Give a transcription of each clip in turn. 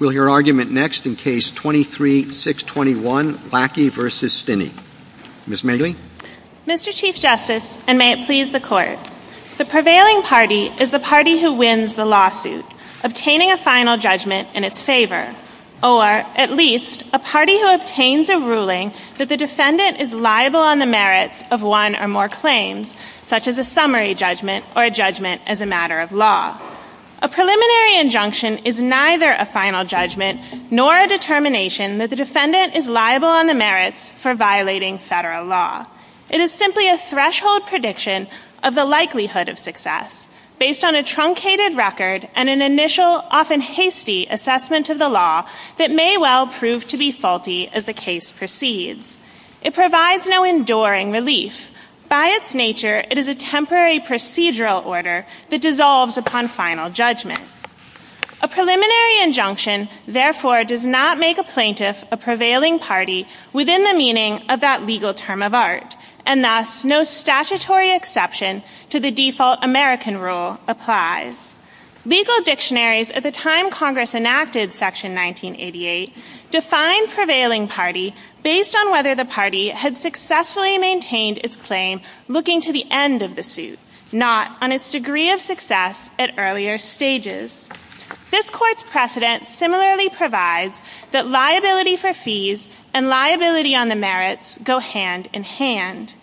Mr. Chief Justice, and may it please the Court, the prevailing party is the party who wins the lawsuit, obtaining a final judgment in its favor, or, at least, a party who obtains a ruling that the defendant is liable on the merits of one or more claims, such as a summary judgment or a judgment as a matter of law. A preliminary injunction is neither a final judgment nor a determination that the defendant is liable on the merits for violating federal law. It is simply a threshold prediction of the likelihood of success, based on a truncated record and an initial, often hasty, assessment of the law that may well prove to be faulty as the case proceeds. It provides no enduring relief. By its nature, it is a temporary procedural order that dissolves upon final judgment. A preliminary injunction, therefore, does not make a plaintiff a prevailing party within the meaning of that legal term of art, and thus, no statutory exception to the default American rule applies. Legal dictionaries at the time Congress enacted Section 1988 defined prevailing party based on whether the party had successfully maintained its claim looking to the end of the suit, not on its degree of success at earlier stages. This Court's precedent similarly provides that liability for fees and liability on the merits go hand in hand.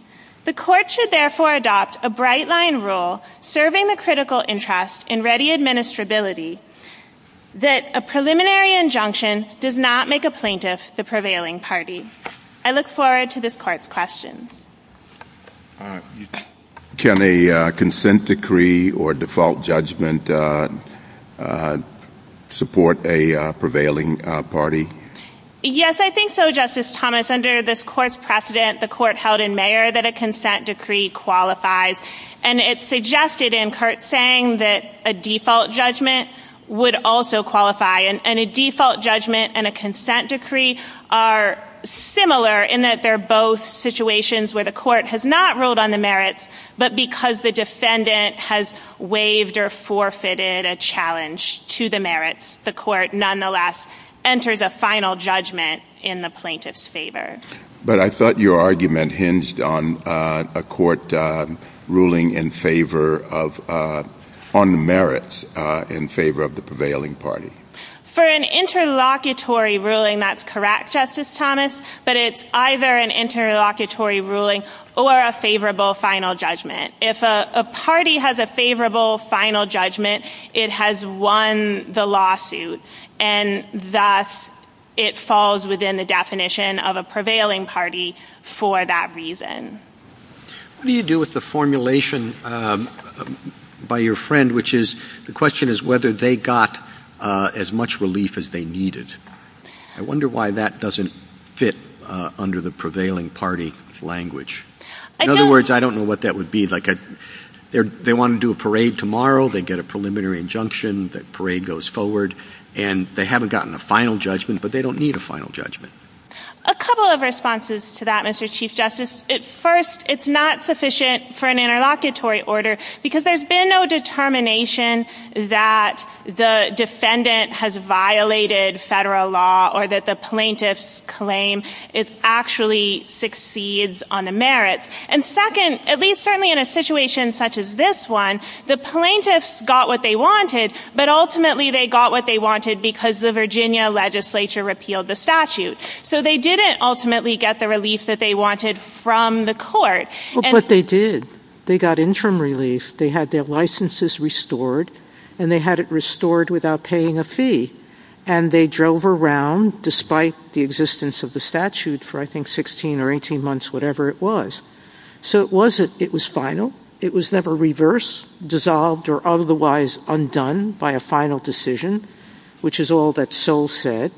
The Court should therefore adopt a bright-line rule serving the critical interest in ready administrability that a preliminary injunction does not make a plaintiff the prevailing party. I look forward to this Court's questions. Can a consent decree or default judgment support a prevailing party? Yes, I think so, Justice Thomas. Under this Court's precedent, the Court held in May that a consent decree qualifies, and it's suggested in Kurt's saying that a default judgment would also qualify, and a default judgment and a consent decree are similar in that they're both situations where the Court has not ruled on the merits, but because the defendant has waived or forfeited a challenge to the merits, the Court nonetheless enters a final judgment in the plaintiff's favor. But I thought your argument hinged on a Court ruling in favor of, on the merits, in favor of the prevailing party. For an interlocutory ruling, that's correct, Justice Thomas, but it's either an interlocutory ruling or a favorable final judgment. If a party has a favorable final judgment, it has won the lawsuit, and thus it falls within the definition of a prevailing party for that reason. What do you do with the formulation by your friend, which is, the question is whether they got as much relief as they needed? I wonder why that doesn't fit under the prevailing party language. In other words, I don't know what that would be, like they want to do a judgment, the parade goes forward, and they haven't gotten a final judgment, but they don't need a final judgment. A couple of responses to that, Mr. Chief Justice. First, it's not sufficient for an interlocutory order, because there's been no determination that the defendant has violated federal law or that the plaintiff's claim actually succeeds on the merits. And second, at least certainly in a situation such as this one, the plaintiffs got what they wanted, but ultimately they got what they wanted because the Virginia legislature repealed the statute. So they didn't ultimately get the relief that they wanted from the court. But they did. They got interim relief. They had their licenses restored, and they had it restored without paying a fee. And they drove around, despite the existence of the statute for, I think, 16 or 18 months, whatever it was. So it was final. It was never reversed, dissolved, or otherwise undone by a final decision, which is all that Sewell said.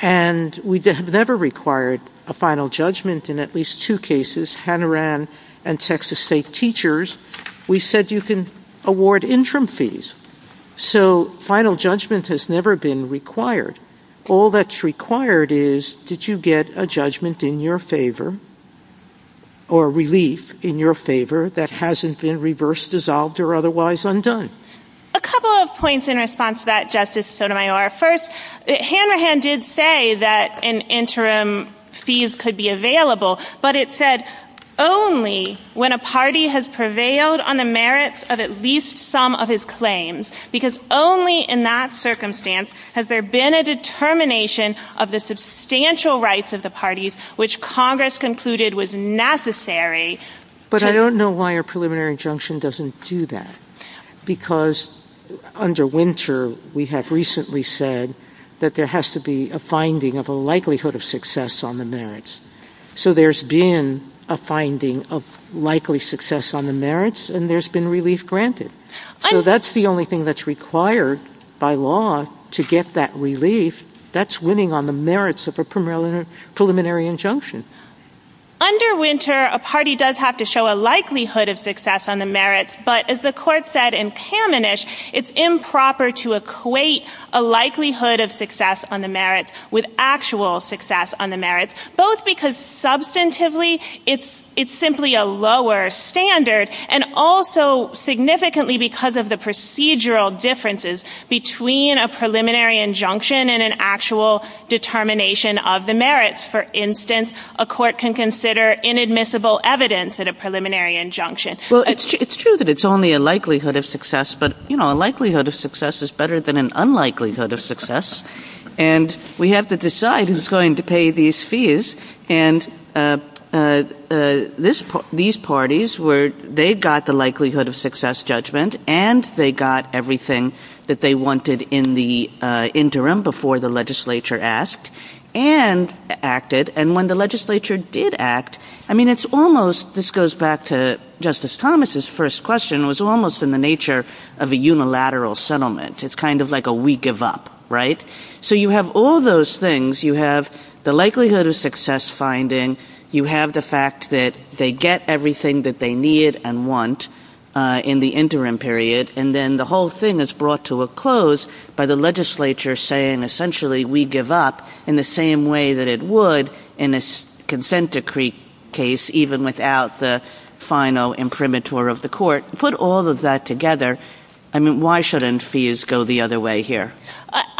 And we never required a final judgment in at least two cases, Hanoran and Texas State Teachers. We said you can award interim fees. So final judgment has never been required. All that's required is that you get a judgment in your favor or relief in your favor that hasn't been reversed, dissolved, or otherwise undone. A couple of points in response to that, Justice Sotomayor. First, Hanoran did say that an interim fees could be available, but it said only when a party has prevailed on the merits of at least some of his claims, because only in that circumstance has there been a determination of the substantial rights of the parties which Congress concluded was necessary. But I don't know why a preliminary injunction doesn't do that, because under Winter we have recently said that there has to be a finding of a likelihood of success on the merits. So there's been a finding of likely success on the merits, and there's been relief granted. So that's the only thing that's required by law to get that relief. That's winning on the merits of a preliminary injunction. Under Winter, a party does have to show a likelihood of success on the merits, but as the court said in Kamenisch, it's improper to equate a likelihood of success on the merits with actual success on the merits, both because substantively it's simply a lower standard and also significantly because of the procedural differences between a preliminary injunction and an actual determination of the merits. For instance, a court can consider inadmissible evidence at a preliminary injunction. Well, it's true that it's only a likelihood of success, but a likelihood of success is better than an unlikelihood of success, and we have to decide who's going to pay these fees, and these parties, they got the likelihood of success judgment, and they got everything that they wanted in the interim before the legislature asked and acted, and when the legislature did act, I mean, it's almost, this goes back to Justice Thomas's first question, was almost in the nature of a unilateral settlement. It's kind of like a we give up, right? So you have all those things. You have the likelihood of success finding. You have the fact that they get everything that they need and want in the interim period, and then the whole thing is brought to a close by the legislature saying essentially we give up in the same way that it would in a consent decree case, even without the final imprimatur of the court. Put all of that together, I mean, why shouldn't fees go the other way here?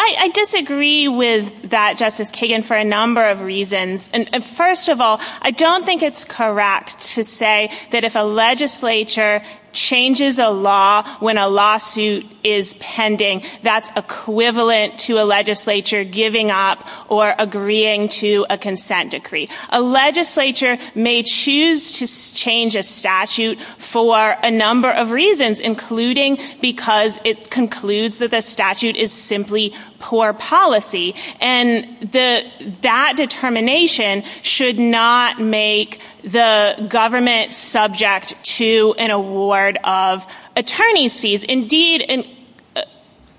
I disagree with that, Justice Kagan, for a number of reasons, and first of all, I don't think it's correct to say that if a legislature changes a law when a lawsuit is pending, that's equivalent to a legislature giving up or agreeing to a consent decree. A legislature may choose to change a statute for a number of reasons, including because it concludes that the statute is simply poor policy, and that determination should not make the government subject to an award of attorney's fees. Indeed, an award of...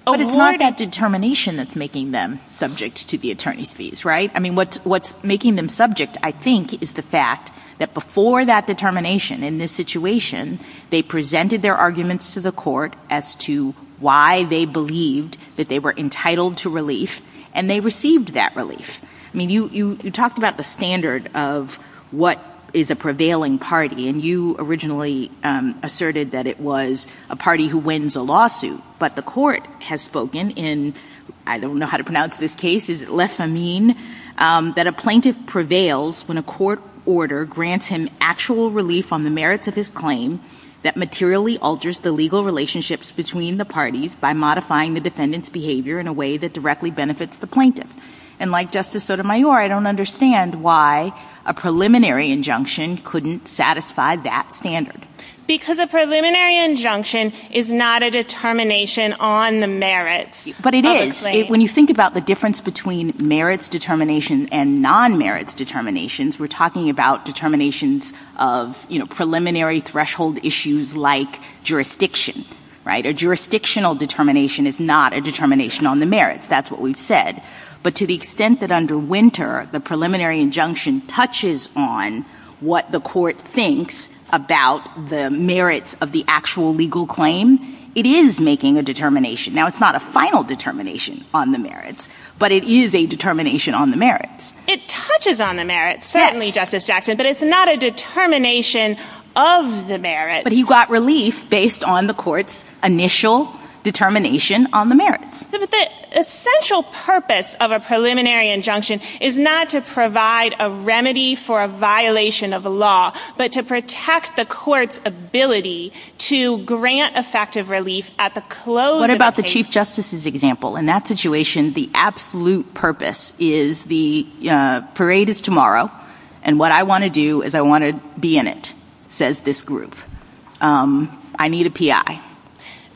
But it's not that determination that's making them subject to the attorney's fees, right? I mean, what's making them subject, I think, is the fact that before that determination in this situation, they presented their arguments to the court as to why they believed that they were entitled to relief, and they received that relief. I mean, you talked about the standard of what is a prevailing party, and you originally asserted that it was a party who wins a lawsuit, but the court has spoken in, I don't know how to pronounce this case, is it Lesamine, that a plaintiff prevails when a court order grants him actual relief on the merits of his claim that materially alters the legal relationships between the parties by modifying the defendant's behavior in a way that directly benefits the plaintiff. And like Justice Sotomayor, I don't understand why a preliminary injunction couldn't satisfy that standard. Because a preliminary injunction is not a determination on the merits of the claim. But it is. When you think about the difference between merits determination and non-merits determinations, we're talking about determinations of preliminary threshold issues like jurisdiction. A jurisdictional determination is not a determination on the merits. That's what we've said. But to the extent that under Winter, the preliminary injunction touches on what the court thinks about the merits of the actual legal claim, it is making a determination. Now, it's not a final determination on the merits, but it is a determination on the merits. It touches on the merits, certainly, Justice Jackson, but it's not a determination of the merits. But he got relief based on the court's initial determination on the merits. But the essential purpose of a preliminary injunction is not to provide a remedy for a violation of the law, but to protect the court's ability to grant effective relief at the close of the case. Parade is tomorrow, and what I want to do is I want to be in it, says this group. I need a PI.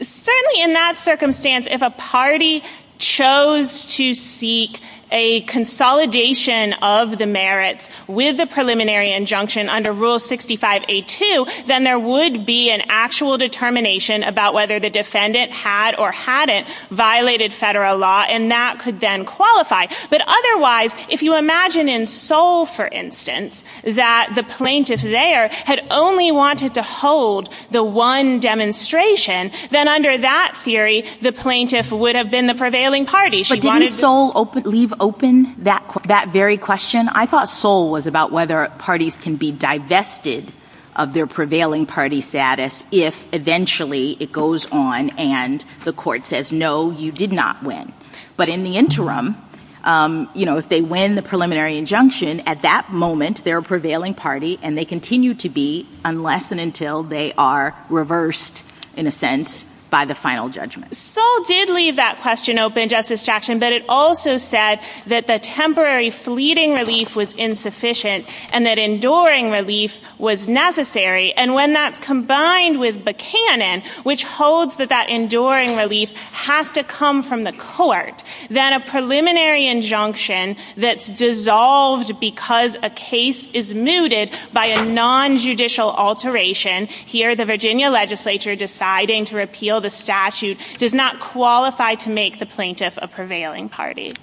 Certainly, in that circumstance, if a party chose to seek a consolidation of the merits with the preliminary injunction under Rule 65A2, then there would be an actual determination about whether the defendant had or hadn't violated federal law, and that could then qualify. But otherwise, if you imagine in Seoul, for instance, that the plaintiff there had only wanted to hold the one demonstration, then under that theory, the plaintiff would have been the prevailing party. But didn't Seoul leave open that very question? I thought Seoul was about whether parties can be divested of their prevailing party status if eventually it goes on and the court says, no, you did not win. But in the interim, if they win the preliminary injunction, at that moment, they're a prevailing party, and they continue to be unless and until they are reversed, in a sense, by the final judgment. Seoul did leave that question open, Justice Jackson, but it also said that the temporary fleeting relief was insufficient and that enduring relief was necessary. And when that combined with the canon, which holds that that enduring relief has to come from the court, then a preliminary injunction that's dissolved because a case is mooted by a nonjudicial alteration, here the Virginia legislature deciding to repeal the statute does not qualify to make the plaintiff a prevailing party.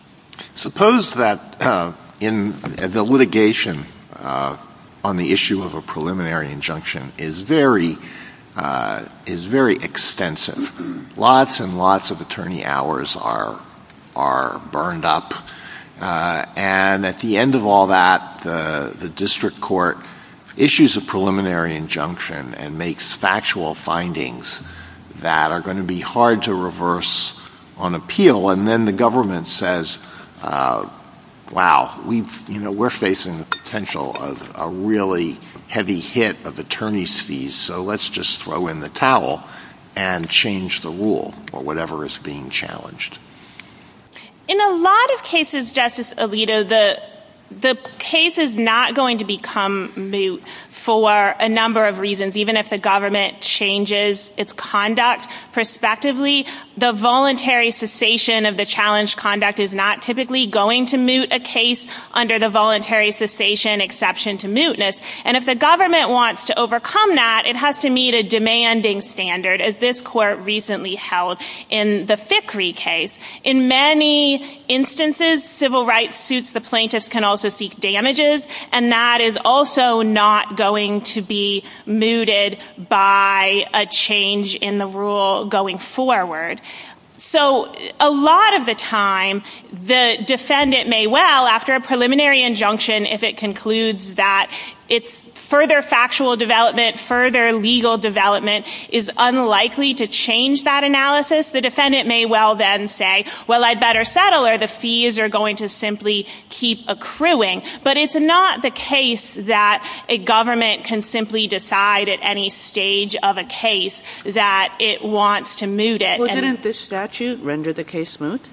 Suppose that the litigation on the issue of a preliminary injunction is very extensive. Lots and lots of attorney hours are burned up, and at the end of all that, the district court issues a preliminary injunction and makes factual findings that are going to be hard to reverse on appeal, and then the government says, wow, we're facing the potential of a really heavy hit of attorney's fees, so let's just throw in the towel and change the rule, or whatever is being challenged. In a lot of cases, Justice Alito, the case is not going to become moot for a number of reasons, even if the government changes its conduct prospectively. The voluntary cessation of the challenged conduct is not typically going to moot a case under the voluntary cessation exception to mootness, and if the government wants to overcome that, it has to meet a demanding standard, as this court recently held in the Thickery case. In many instances, civil rights suits the plaintiffs can also seek damages, and that is also not going to be mooted by a change in the rule going forward. So a lot of the time, the defendant may well, after a preliminary injunction, if it concludes that further factual development, further legal development is unlikely to change that analysis, the defendant may well then say, well, I'd better settle, or the fees are going to simply keep accruing. But it's not the case that a government can simply decide at any stage of a case that it wants to moot it. Well, didn't the statute render the case moot?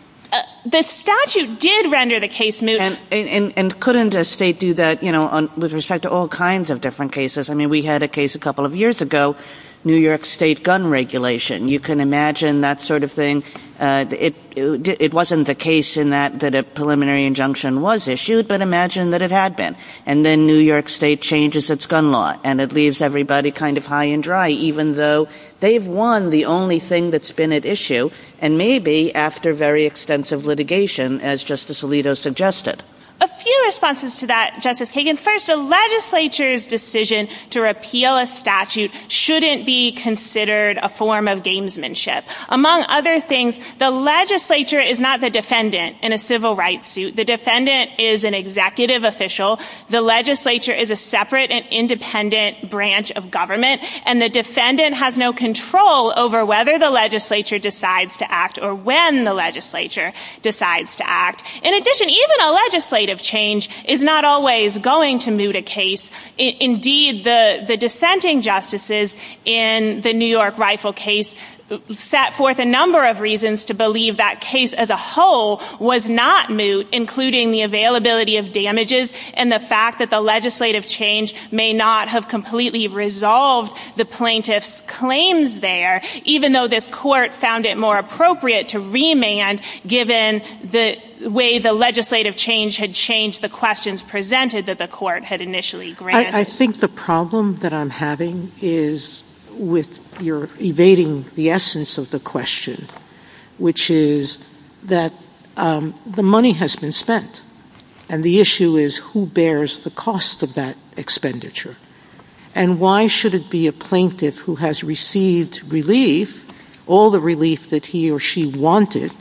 The statute did render the case moot. And couldn't a state do that with respect to all kinds of different cases? I mean, we had a case a couple of years ago, New York State gun regulation. You can imagine that sort of thing. It wasn't the case in that that a preliminary injunction was issued, but imagine that it had been. And then New York State changes its gun law, and it leaves everybody kind of high and dry, even though they've won the only thing that's been at issue, and maybe after very extensive litigation, as Justice Alito suggested. A few responses to that, Justice Hagan. First, the legislature's decision to repeal a statute shouldn't be considered a form of gamesmanship. Among other things, the legislature is not the defendant in a civil rights suit. The defendant is an executive official. The legislature is a separate and independent branch of government, and the defendant has no control over whether the legislature decides to act or when the legislature decides to act. In addition, even a legislative change is not always going to moot a case. Indeed, the dissenting justices in the New York rifle case set forth a number of reasons to believe that case as a whole was not moot, including the availability of damages and the fact that the legislative change may not have completely resolved the plaintiff's claims there, even though this court found it more appropriate to remand, given the way the legislative change had changed the questions presented that the court had initially granted. I think the problem that I'm having is with your evading the essence of the question, which is that the money has been spent, and the issue is who bears the cost of that expenditure, and why should it be a plaintiff who has received relief, all the relief that he or she wanted,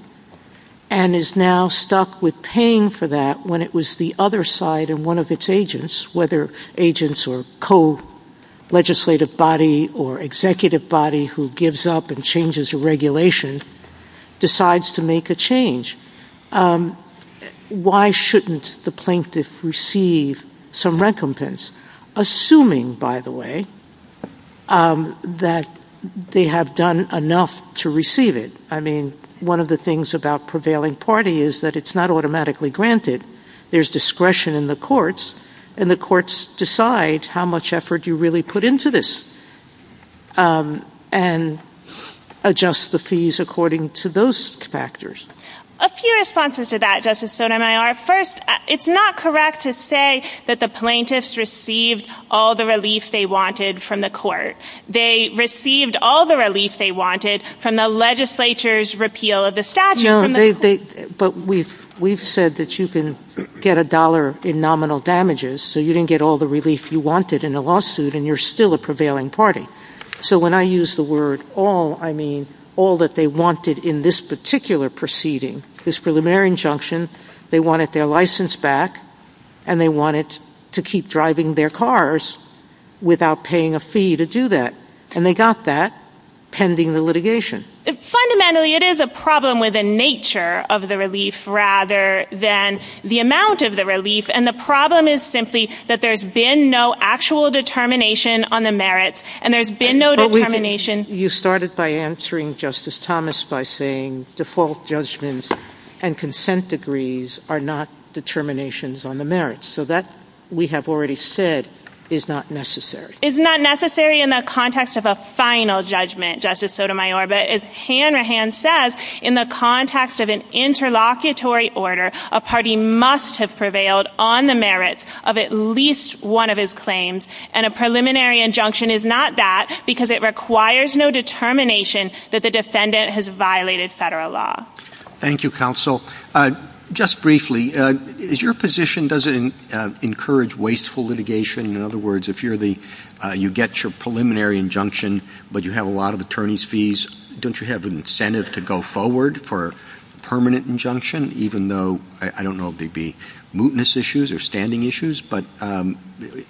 and is now stuck with paying for that when it was the other side and one of its agents, whether agents or co-legislative body or executive body who gives up and changes the regulation, decides to make a change. Why shouldn't the plaintiff receive some recompense, assuming, by the way, that they have done enough to receive it? I mean, one of the things about prevailing party is that it's not automatically granted. There's discretion in the courts, and the courts decide how much effort you really put into this and adjust the fees according to those factors. A few responses to that, Justice Sotomayor. First, it's not correct to say that the plaintiffs received all the relief they wanted from the court. They received all the relief they wanted from the legislature's repeal of the statute. But we've said that you can get a dollar in nominal damages, so you didn't get all the relief you wanted in the lawsuit, and you're still a prevailing party. So when I use the word all, I mean all that they wanted in this particular proceeding is preliminary injunction. They wanted their license back, and they wanted to keep driving their cars without paying a fee to do that. And they got that pending the litigation. Fundamentally, it is a problem with the nature of the relief rather than the amount of the relief, and the problem is simply that there's been no actual determination on the merits, and there's been no determination. But you started by answering Justice Thomas by saying default judgments and consent degrees are not determinations on the merits. So that, we have already said, is not necessary. It's not necessary in the context of a final judgment, Justice Sotomayor. But as Hanrahan says, in the context of an interlocutory order, a party must have prevailed on the merits of at least one of his claims, and a preliminary injunction is not that because it requires no determination that the defendant has violated federal law. Thank you, counsel. Just briefly, is your position, does it encourage wasteful litigation? In other words, if you get your preliminary injunction, but you have a lot of attorney's fees, don't you have an incentive to go forward for a permanent injunction, even though, I don't know if they'd be mootness issues or standing issues, but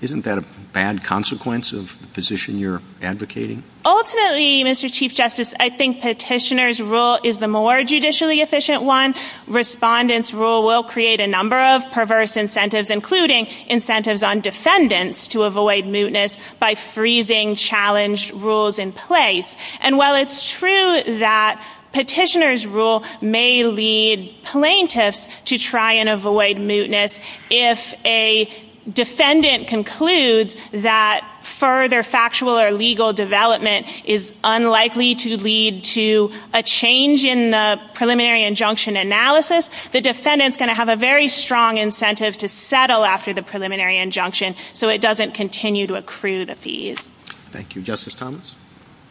isn't that a bad consequence of the position you're advocating? Ultimately, Mr. Chief Justice, I think petitioner's rule is the more judicially efficient one. Respondent's rule will create a number of perverse incentives, including incentives on defendants to avoid mootness by freezing challenge rules in place. And while it's true that petitioner's rule may lead plaintiffs to try and avoid mootness, if a defendant concludes that further factual or legal development is unlikely to lead to a change in the preliminary injunction analysis, the defendant's going to have a very strong incentive to settle after the preliminary injunction, so it doesn't continue to accrue the fees. Thank you. Justice Thomas?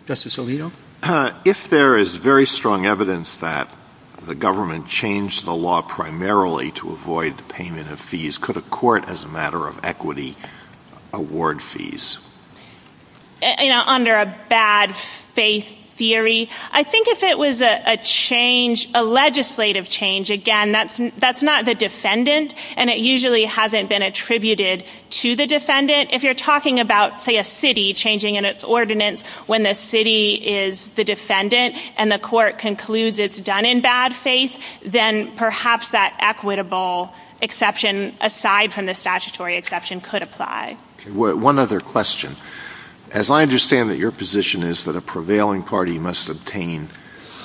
Justice Alito? If there is very strong evidence that the government changed the law primarily to avoid the payment of fees, could a court, as a matter of equity, award fees? Under a bad faith theory, I think if it was a change, a legislative change, again, that's not the defendant, and it usually hasn't been attributed to the defendant. If you're talking about, say, a city changing its ordinance when the city is the defendant and the court concludes it's done in bad faith, then perhaps that equitable exception aside from the statutory exception could apply. One other question. As I understand it, your position is that a prevailing party must obtain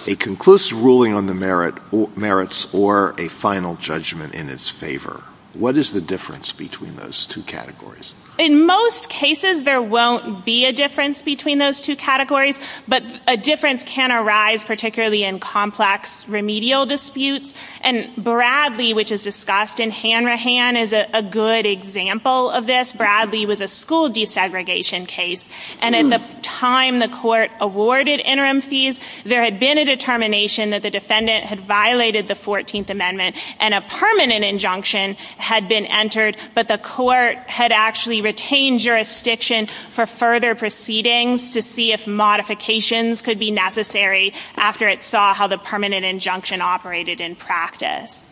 a conclusive ruling on the merits or a final judgment in its favor. What is the difference between those two categories? In most cases, there won't be a difference between those two categories, but a difference can arise particularly in complex remedial disputes, and Bradley, which is discussed in Hanrahan, is a good example of this. Bradley was a school desegregation case, and in the time the court awarded interim fees, there had been a determination that the defendant had violated the 14th Amendment and a permanent injunction had been entered, but the court had actually retained jurisdiction for further proceedings to see if modifications could be necessary after it saw how the permanent injunction operated in practice.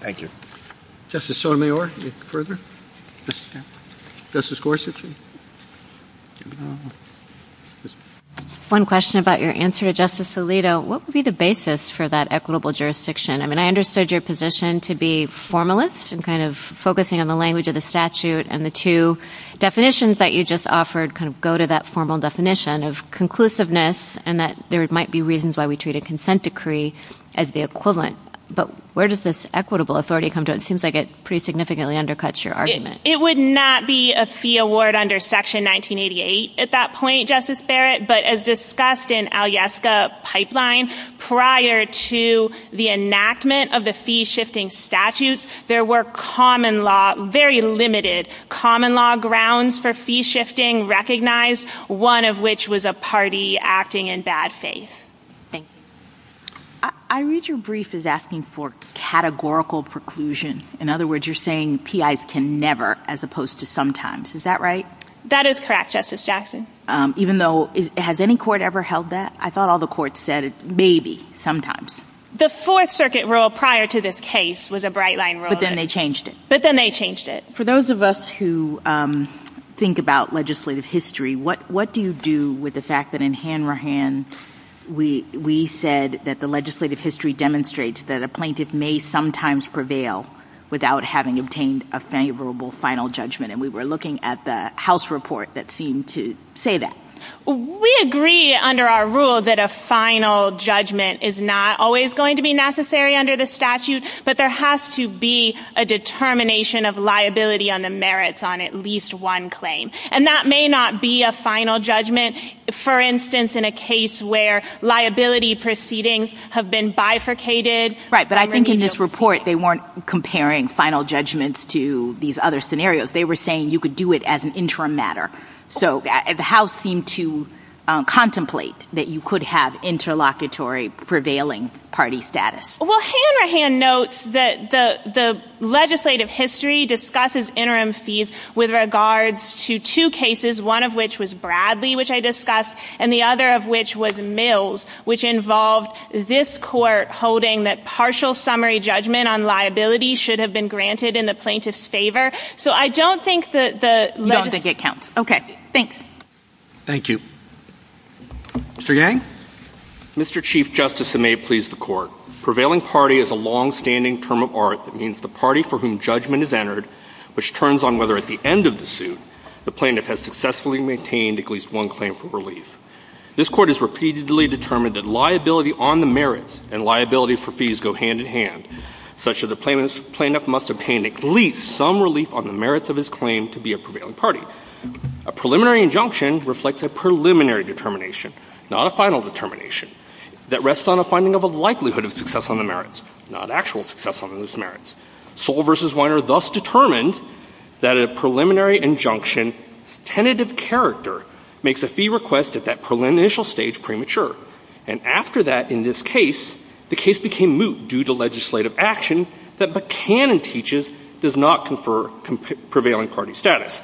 Thank you. Justice Sotomayor, any further? Justice Gorsuch? One question about your answer to Justice Alito. What would be the basis for that equitable jurisdiction? I mean, I understood your position to be formalist and kind of focusing on the language of the statute and the two definitions that you just offered kind of go to that formal definition of conclusiveness and that there might be reasons why we treat a consent decree as the equivalent, but where does this equitable authority come to? It seems like it pretty significantly undercuts your argument. It would not be a fee award under Section 1988 at that point, Justice Barrett, but as discussed in Alyeska Pipeline, prior to the enactment of the fee-shifting statutes, there were common law, very limited common law grounds for fee-shifting recognized, one of which was a party acting in bad faith. I read your brief as asking for categorical preclusion. In other words, you're saying PIs can never as opposed to sometimes. Is that right? That is correct, Justice Jackson. Even though has any court ever held that? I thought all the courts said maybe, sometimes. The Fourth Circuit rule prior to this case was a bright line rule. But then they changed it. But then they changed it. For those of us who think about legislative history, what do you do with the fact that in Hanrahan we said that the legislative history demonstrates that a plaintiff may sometimes prevail without having obtained a favorable final judgment, and we were looking at the House report that seemed to say that. We agree under our rule that a final judgment is not always going to be necessary under the statute, but there has to be a determination of liability on the merits on at least one claim. And that may not be a final judgment, for instance, in a case where liability proceedings have been bifurcated. Right, but I think in this report they weren't comparing final judgments to these other scenarios. They were saying you could do it as an interim matter. So the House seemed to contemplate that you could have interlocutory prevailing party status. Well, Hanrahan notes that the legislative history discusses interim fees with regards to two cases, one of which was Bradley, which I discussed, and the other of which was Mills, which involved this court holding that partial summary judgment on liability should have been granted in the plaintiff's favor. So I don't think that the legislative – You don't think it counts. Okay. Thanks. Thank you. Mr. Yang? Mr. Chief Justice, and may it please the Court, prevailing party is a longstanding term of art that means the party for whom judgment is entered, which turns on whether at the end of the suit the plaintiff has successfully maintained at least one claim for relief. This Court has repeatedly determined that liability on the merits and liability for fees go hand in hand, such that the plaintiff must obtain at least some relief on the merits of his claim to be a prevailing party. A preliminary injunction reflects a preliminary determination, not a final determination, that rests on a finding of a likelihood of success on the merits, not actual success on those merits. Soll v. Weiner thus determined that a preliminary injunction's tentative character makes a fee request at that initial stage premature. And after that, in this case, the case became moot due to legislative action that Buchanan teaches does not confer prevailing party status.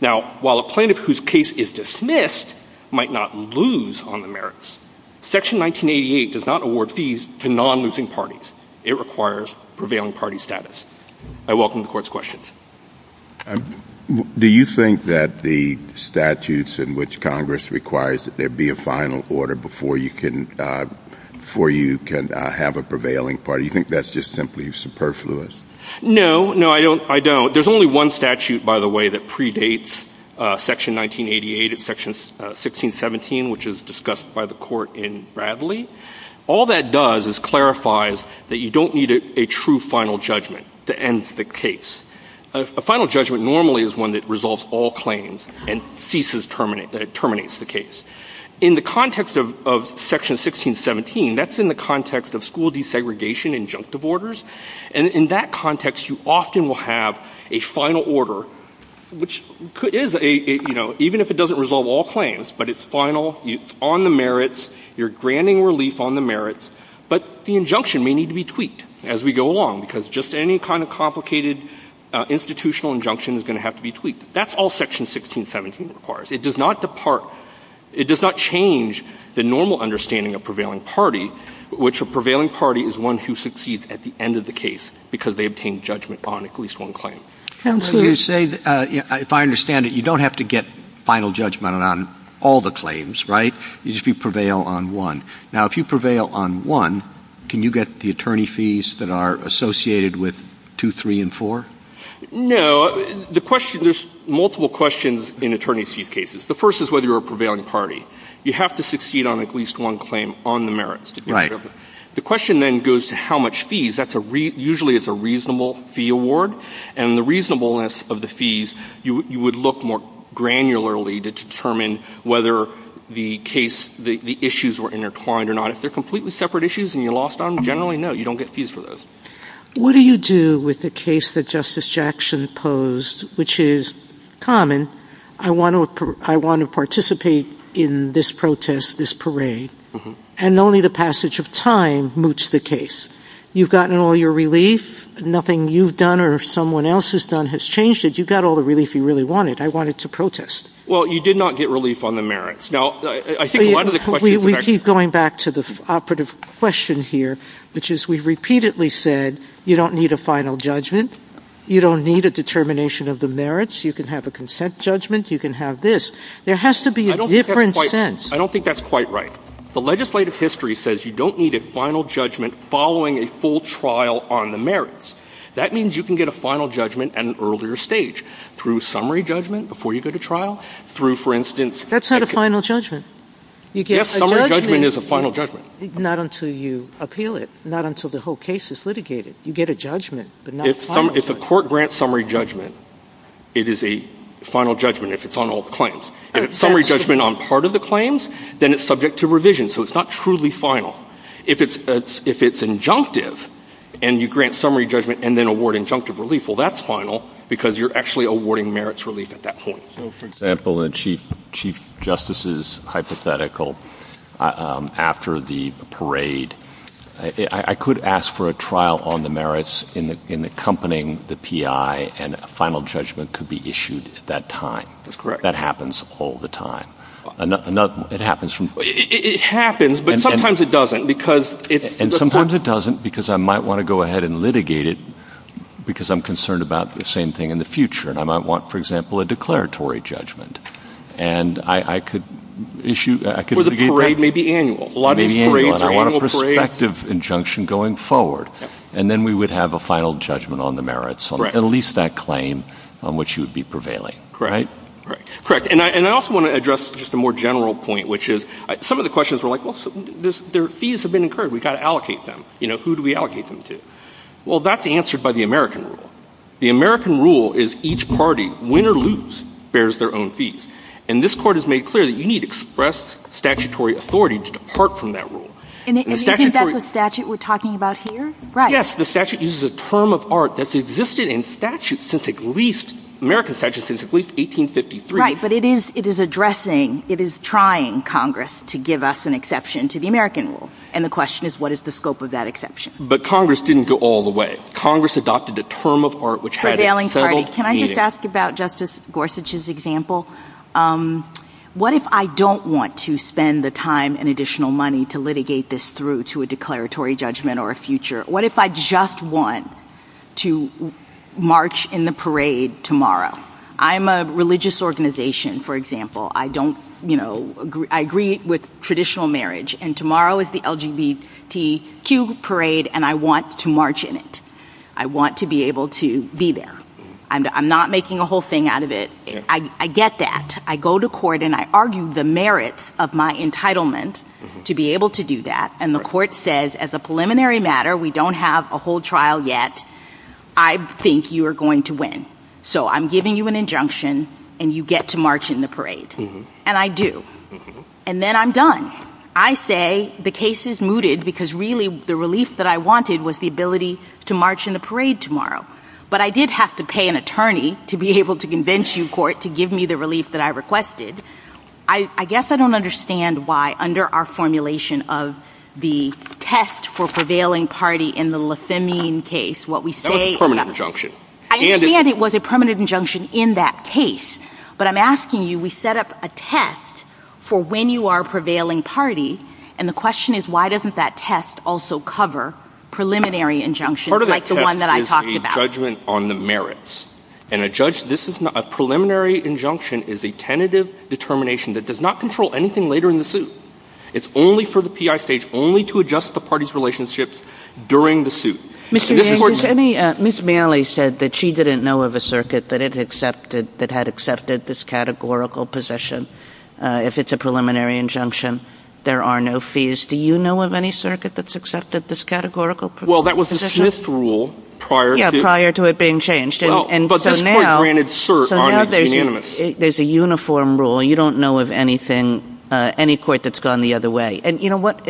Now, while a plaintiff whose case is dismissed might not lose on the merits, Section 1988 does not award fees to non-losing parties. It requires prevailing party status. I welcome the Court's questions. Do you think that the statutes in which Congress requires that there be a final order before you can have a prevailing party, do you think that's just simply superfluous? No, no, I don't. There's only one statute, by the way, that predates Section 1988 and Section 1617, which is discussed by the Court in Bradley. All that does is clarifies that you don't need a true final judgment to end the case. A final judgment normally is one that resolves all claims and ceases, that it terminates the case. In the context of Section 1617, that's in the context of school desegregation injunctive orders. And in that context, you often will have a final order, which is a, you know, even if it doesn't resolve all claims, but it's final, it's on the merits, you're granting relief on the merits, but the injunction may need to be tweaked as we go along, because just any kind of complicated institutional injunction is going to have to be tweaked. That's all Section 1617 requires. It does not depart, it does not change the normal understanding of prevailing party, which a prevailing party is one who succeeds at the end of the case because they obtain judgment on at least one claim. If I understand it, you don't have to get final judgment on all the claims, right? You just prevail on one. Now, if you prevail on one, can you get the attorney fees that are associated with two, three, and four? No. There's multiple questions in attorney fee cases. The first is whether you're a prevailing party. You have to succeed on at least one claim on the merits. The question then goes to how much fees. Usually it's a reasonable fee award, and the reasonableness of the fees, you would look more granularly to determine whether the issues were intertwined or not. If they're completely separate issues and you lost them, generally, no, you don't get fees for those. What do you do with the case that Justice Jackson posed, which is common, I want to participate in this protest, this parade, and only the passage of time moots the case? You've gotten all your relief. Nothing you've done or someone else has done has changed it. You've got all the relief you really wanted. I wanted to protest. Well, you did not get relief on the merits. We keep going back to the operative question here, which is we've repeatedly said you don't need a final judgment. You don't need a determination of the merits. You can have a consent judgment. You can have this. There has to be a different sense. I don't think that's quite right. The legislative history says you don't need a final judgment following a full trial on the merits. That means you can get a final judgment at an earlier stage, through summary judgment before you go to trial, through, for instance, That's not a final judgment. Yes, summary judgment is a final judgment. Not until you appeal it, not until the whole case is litigated. You get a judgment, but not a final judgment. If the court grants summary judgment, it is a final judgment if it's on all the claims. If it's summary judgment on part of the claims, then it's subject to revision, so it's not truly final. If it's injunctive and you grant summary judgment and then award injunctive relief, well, that's final, because you're actually awarding merits relief at that point. For example, in Chief Justice's hypothetical, after the parade, I could ask for a trial on the merits in accompanying the PI, and a final judgment could be issued at that time. That happens all the time. It happens, but sometimes it doesn't. Sometimes it doesn't, because I might want to go ahead and litigate it, because I'm concerned about the same thing in the future. I might want, for example, a declaratory judgment. Or the parade may be annual. I want a prospective injunction going forward, and then we would have a final judgment on the merits, or at least that claim on which you would be prevailing. Correct. And I also want to address just a more general point, which is some of the questions are like, well, their fees have been incurred. We've got to allocate them. You know, who do we allocate them to? Well, that's answered by the American rule. The American rule is each party, win or lose, bears their own fees. And this Court has made clear that you need to express statutory authority to depart from that rule. And you think that's the statute we're talking about here? Yes. Yes, the statute uses a term of art that's existed in statute since at least 1853. Right, but it is addressing, it is trying Congress to give us an exception to the American rule. And the question is, what is the scope of that exception? But Congress didn't go all the way. Congress adopted a term of art which had a federal fee in it. Can I just ask about Justice Gorsuch's example? What if I don't want to spend the time and additional money to litigate this through to a declaratory judgment or a future? What if I just want to march in the parade tomorrow? I'm a religious organization, for example. I don't, you know, I agree with traditional marriage. And tomorrow is the LGBTQ parade, and I want to march in it. I want to be able to be there. I'm not making a whole thing out of it. I get that. I go to court, and I argue the merit of my entitlement to be able to do that. And the court says, as a preliminary matter, we don't have a whole trial yet. I think you are going to win. So I'm giving you an injunction, and you get to march in the parade. And I do. And then I'm done. I say the case is mooted because really the relief that I wanted was the ability to march in the parade tomorrow. But I did have to pay an attorney to be able to convince you, court, to give me the relief that I requested. I guess I don't understand why, under our formulation of the test for prevailing party in the Le Femmine case, what we say is that. That was a permanent injunction. I understand it was a permanent injunction in that case. But I'm asking you, we set up a test for when you are a prevailing party, and the question is why doesn't that test also cover preliminary injunctions like the one that I talked about? Part of the test is the judgment on the merits. And a preliminary injunction is a tentative determination that does not control anything later in the suit. It's only for the P.I. states, only to adjust the party's relationships during the suit. Ms. Maile said that she didn't know of a circuit that had accepted this categorical position. If it's a preliminary injunction, there are no fees. Do you know of any circuit that's accepted this categorical position? Well, that was the fifth rule prior to it being changed. So now there's a uniform rule. You don't know of anything, any court that's gone the other way. And you know what?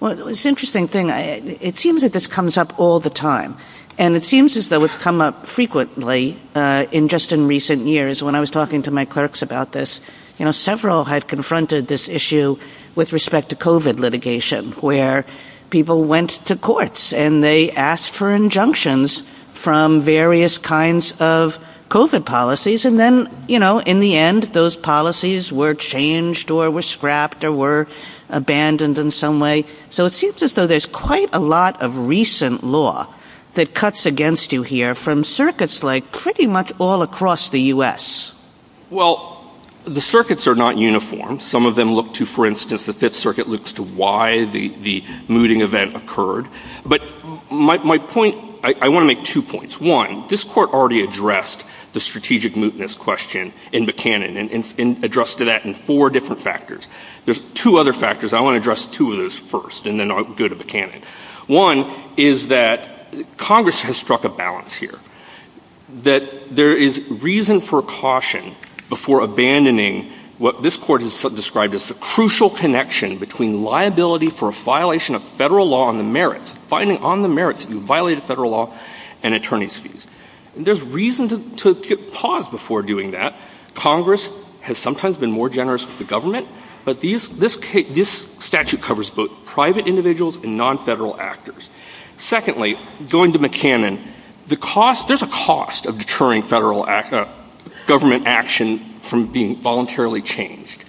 Well, it's an interesting thing. It seems that this comes up all the time. And it seems as though it's come up frequently in just in recent years. When I was talking to my clerks about this, you know, And they asked for injunctions from various kinds of COVID policies. And then, you know, in the end, those policies were changed or were scrapped or were abandoned in some way. So it seems as though there's quite a lot of recent law that cuts against you here from circuits like pretty much all across the U.S. Well, the circuits are not uniform. Some of them look to, for instance, the Fifth Circuit looks to why the mooting event occurred. But my point, I want to make two points. One, this Court already addressed the strategic mootness question in Buchanan and addressed that in four different factors. There's two other factors. I want to address two of those first and then I'll go to Buchanan. One is that Congress has struck a balance here. That there is reason for caution before abandoning what this Court has described as the crucial connection between liability for a violation of federal law on the merits, finding on the merits you violated federal law and attorney's fees. There's reason to pause before doing that. Congress has sometimes been more generous with the government. But this statute covers both private individuals and non-federal actors. Secondly, going to Buchanan, there's a cost of deterring federal government action from being voluntarily changed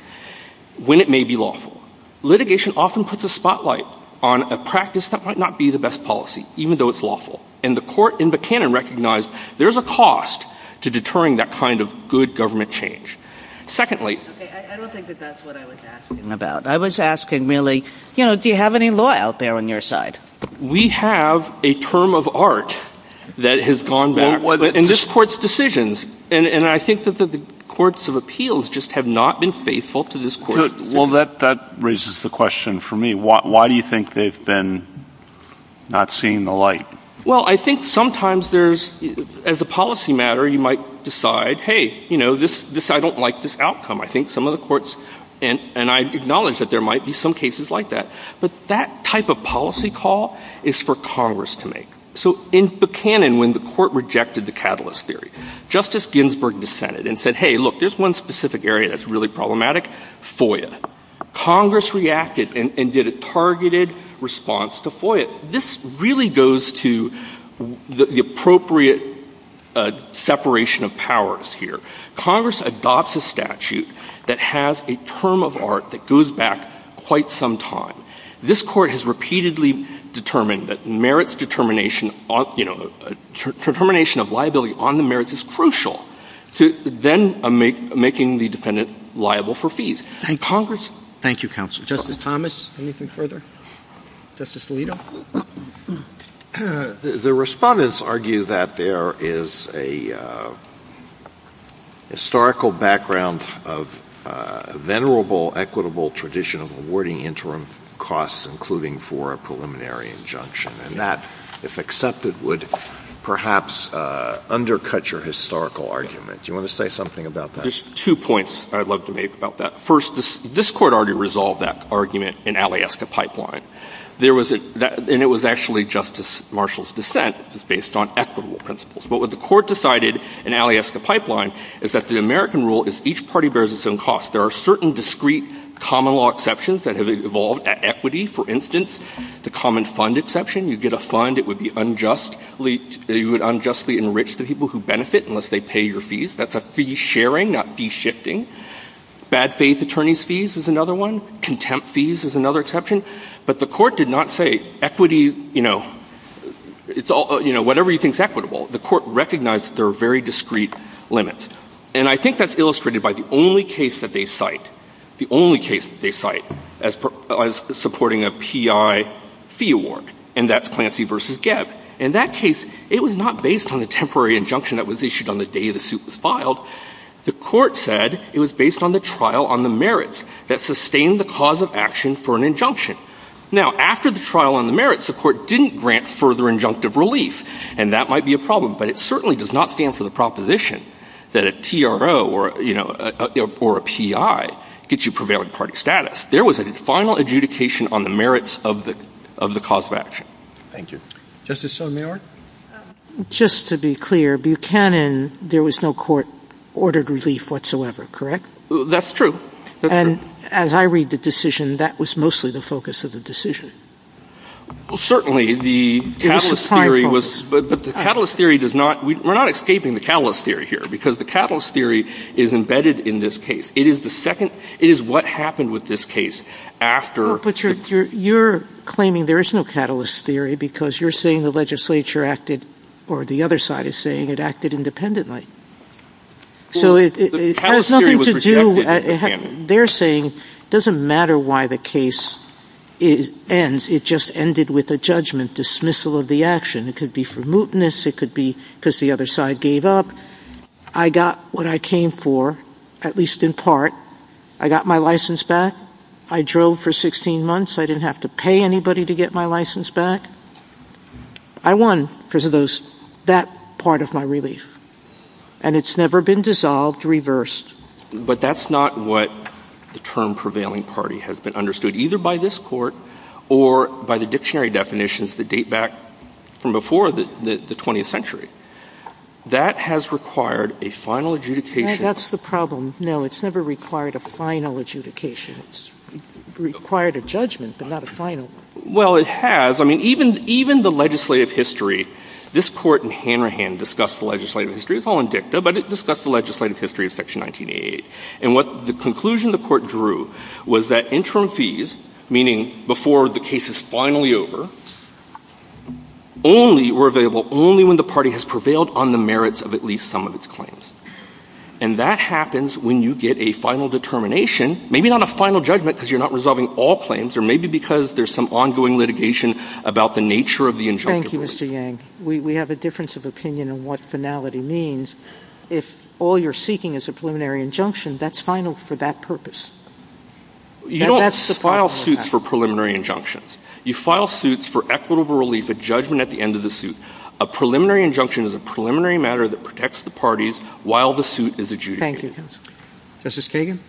when it may be lawful. Litigation often puts a spotlight on a practice that might not be the best policy, even though it's lawful. And the Court in Buchanan recognized there's a cost to deterring that kind of good government change. I don't think that that's what I was asking about. I was asking really, do you have any law out there on your side? We have a term of art that has gone back. And this Court's decisions. And I think that the courts of appeals just have not been faithful to this Court. Well, that raises the question for me. Why do you think they've been not seeing the light? Well, I think sometimes there's, as a policy matter, you might decide, hey, you know, I don't like this outcome. I think some of the courts, and I acknowledge that there might be some cases like that. But that type of policy call is for Congress to make. So in Buchanan, when the Court rejected the catalyst theory, Justice Ginsburg dissented and said, hey, look, there's one specific area that's really problematic, FOIA. Congress reacted and did a targeted response to FOIA. This really goes to the appropriate separation of powers here. Congress adopts a statute that has a term of art that goes back quite some time. This Court has repeatedly determined that merits determination, you know, determination of liability on the merits is crucial to then making the defendant liable for fees. Thank you, Counsel. Justice Thomas, anything further? Justice Alito? The respondents argue that there is a historical background of venerable, equitable tradition of awarding interim costs, including for a preliminary injunction. And that, if accepted, would perhaps undercut your historical argument. Do you want to say something about that? There's two points I'd love to make about that. First, this Court already resolved that argument in Aliesta Pipeline. And it was actually Justice Marshall's dissent, which is based on equitable principles. But what the Court decided in Aliesta Pipeline is that the American rule is each party bears its own cost. There are certain discrete common law exceptions that have evolved at equity. For instance, the common fund exception, you get a fund, it would unjustly enrich the people who benefit unless they pay your fees. That's a fee sharing, not fee shifting. Bad faith attorney's fees is another one. Contempt fees is another exception. But the Court did not say equity, you know, whatever you think is equitable. The Court recognized that there are very discrete limits. And I think that's illustrated by the only case that they cite as supporting a PI fee award, and that's Clancy v. Gebb. In that case, it was not based on a temporary injunction that was issued on the day the suit was filed. The Court said it was based on the trial on the merits that sustained the cause of action for an injunction. Now, after the trial on the merits, the Court didn't grant further injunctive relief, and that might be a problem. But it certainly does not stand for the proposition that a TRO or a PI gets you prevailing party status. There was a final adjudication on the merits of the cause of action. Thank you. Justice Sotomayor? Just to be clear, Buchanan, there was no court-ordered relief whatsoever, correct? That's true. And as I read the decision, that was mostly the focus of the decision. Well, certainly, the catalyst theory was – but the catalyst theory does not – we're not escaping the catalyst theory here, because the catalyst theory is embedded in this case. It is the second – it is what happened with this case after – But you're claiming there is no catalyst theory because you're saying the legislature acted – or the other side is saying it acted independently. So it has nothing to do – they're saying it doesn't matter why the case ends. It just ended with a judgment dismissal of the action. It could be for mootness. It could be because the other side gave up. I got what I came for, at least in part. I got my license back. I drove for 16 months. I didn't have to pay anybody to get my license back. I won because of that part of my relief. And it's never been dissolved, reversed. But that's not what the term prevailing party has been understood, either by this court or by the dictionary definitions that date back from before the 20th century. That has required a final adjudication. That's the problem. No, it's never required a final adjudication. It's required a judgment, but not a final one. Well, it has. I mean, even the legislative history – this court in Hanrahan discussed the legislative history. It's all in dicta, but it discussed the legislative history of Section 1988. And what the conclusion the court drew was that interim fees, meaning before the case is finally over, only were available only when the party has prevailed on the merits of at least some of its claims. And that happens when you get a final determination, maybe not a final judgment because you're not resolving all claims, or maybe because there's some ongoing litigation about the nature of the injunction. Thank you, Mr. Yang. We have a difference of opinion in what finality means. If all you're seeking is a preliminary injunction, that's final for that purpose. You don't file suits for preliminary injunctions. You file suits for equitable relief at judgment at the end of the suit. A preliminary injunction is a preliminary matter that protects the parties while the suit is adjudicated. Thank you. Justice Kagan?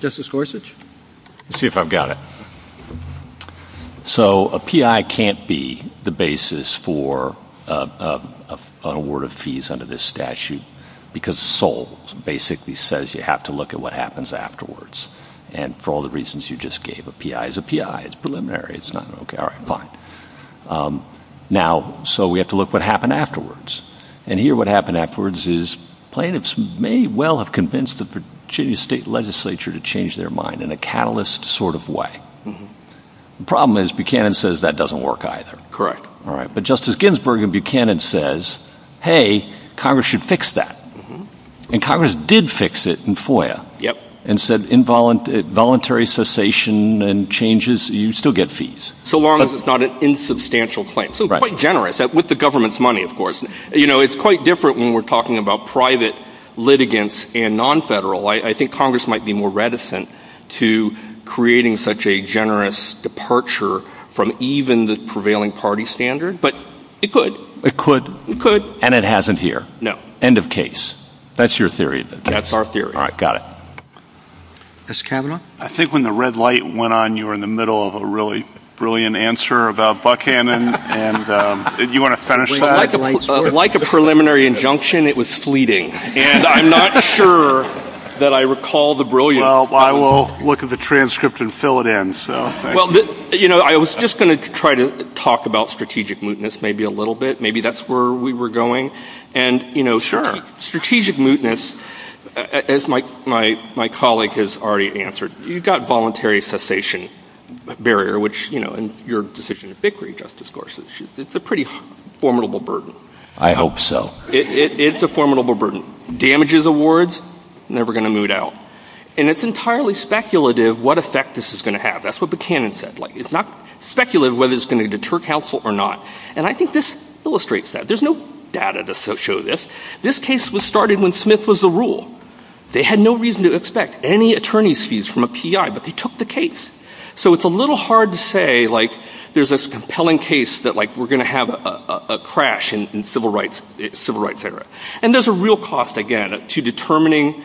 Justice Gorsuch? Let's see if I've got it. So a PI can't be the basis for an award of fees under this statute because Sol basically says you have to look at what happens afterwards. And for all the reasons you just gave, a PI is a PI. It's preliminary. It's not – okay, all right, fine. Now, so we have to look at what happened afterwards. And here what happened afterwards is plaintiffs may well have convinced the Virginia State Legislature to change their mind in a catalyst sort of way. The problem is Buchanan says that doesn't work either. All right, but Justice Ginsburg in Buchanan says, hey, Congress should fix that. And Congress did fix it in FOIA and said involuntary cessation and changes, you still get fees. So long as it's not an insubstantial claim. So quite generous, with the government's money, of course. You know, it's quite different when we're talking about private litigants and nonfederal. I think Congress might be more reticent to creating such a generous departure from even the prevailing party standard, but it could. It could. It could. And it hasn't here. No. End of case. That's your theory. That's our theory. All right, got it. Justice Kavanaugh? I think when the red light went on, you were in the middle of a really brilliant answer about Buchanan. And you want to finish that? Like a preliminary injunction, it was fleeting. And I'm not sure that I recall the brilliance. Well, I will look at the transcript and fill it in. Well, you know, I was just going to try to talk about strategic mootness maybe a little bit. Maybe that's where we were going. Sure. Strategic mootness, as my colleague has already answered, you've got voluntary cessation barrier, which, you know, in your decision at Bickering, Justice Gorsuch, it's a pretty formidable burden. I hope so. It's a formidable burden. Damages awards, never going to moot out. And it's entirely speculative what effect this is going to have. That's what Buchanan said. It's not speculative whether it's going to deter counsel or not. And I think this illustrates that. There's no data to show this. This case was started when Smith was the rule. They had no reason to expect any attorney's fees from a PI, but they took the case. So it's a little hard to say, like, there's this compelling case that, like, we're going to have a crash in civil rights, et cetera. And there's a real cost, again, to determining,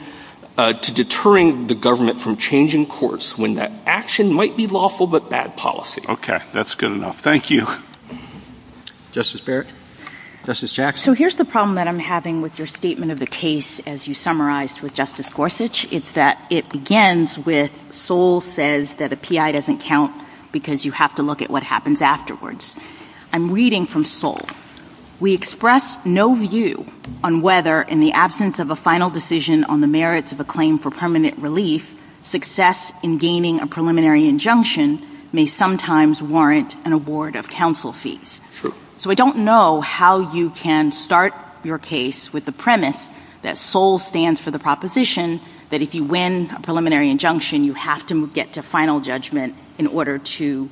to deterring the government from changing courts when that action might be lawful but bad policy. Okay. That's good enough. Thank you. Justice Barrett? Justice Jackson? So here's the problem that I'm having with your statement of the case as you summarized with Justice Gorsuch. It's that it begins with Sol says that a PI doesn't count because you have to look at what happens afterwards. I'm reading from Sol. We express no view on whether in the absence of a final decision on the merits of a claim for permanent relief, success in gaining a preliminary injunction may sometimes warrant an award of counsel fees. So I don't know how you can start your case with the premise that Sol stands for the proposition that if you win a preliminary injunction, you have to get to final judgment in order to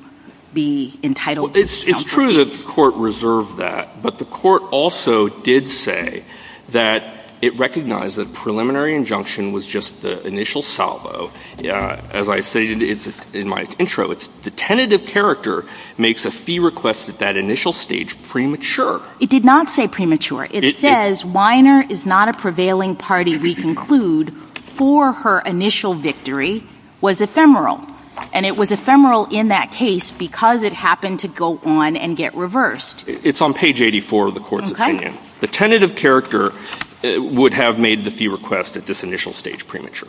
be entitled to counsel fees. It's true that the court reserved that. But the court also did say that it recognized that preliminary injunction was just the initial salvo. As I stated in my intro, it's the tentative character makes a fee request at that initial stage premature. It did not say premature. It says Weiner is not a prevailing party, we conclude, for her initial victory was ephemeral. And it was ephemeral in that case because it happened to go on and get reversed. It's on page 84 of the court's opinion. The tentative character would have made the fee request at this initial stage premature.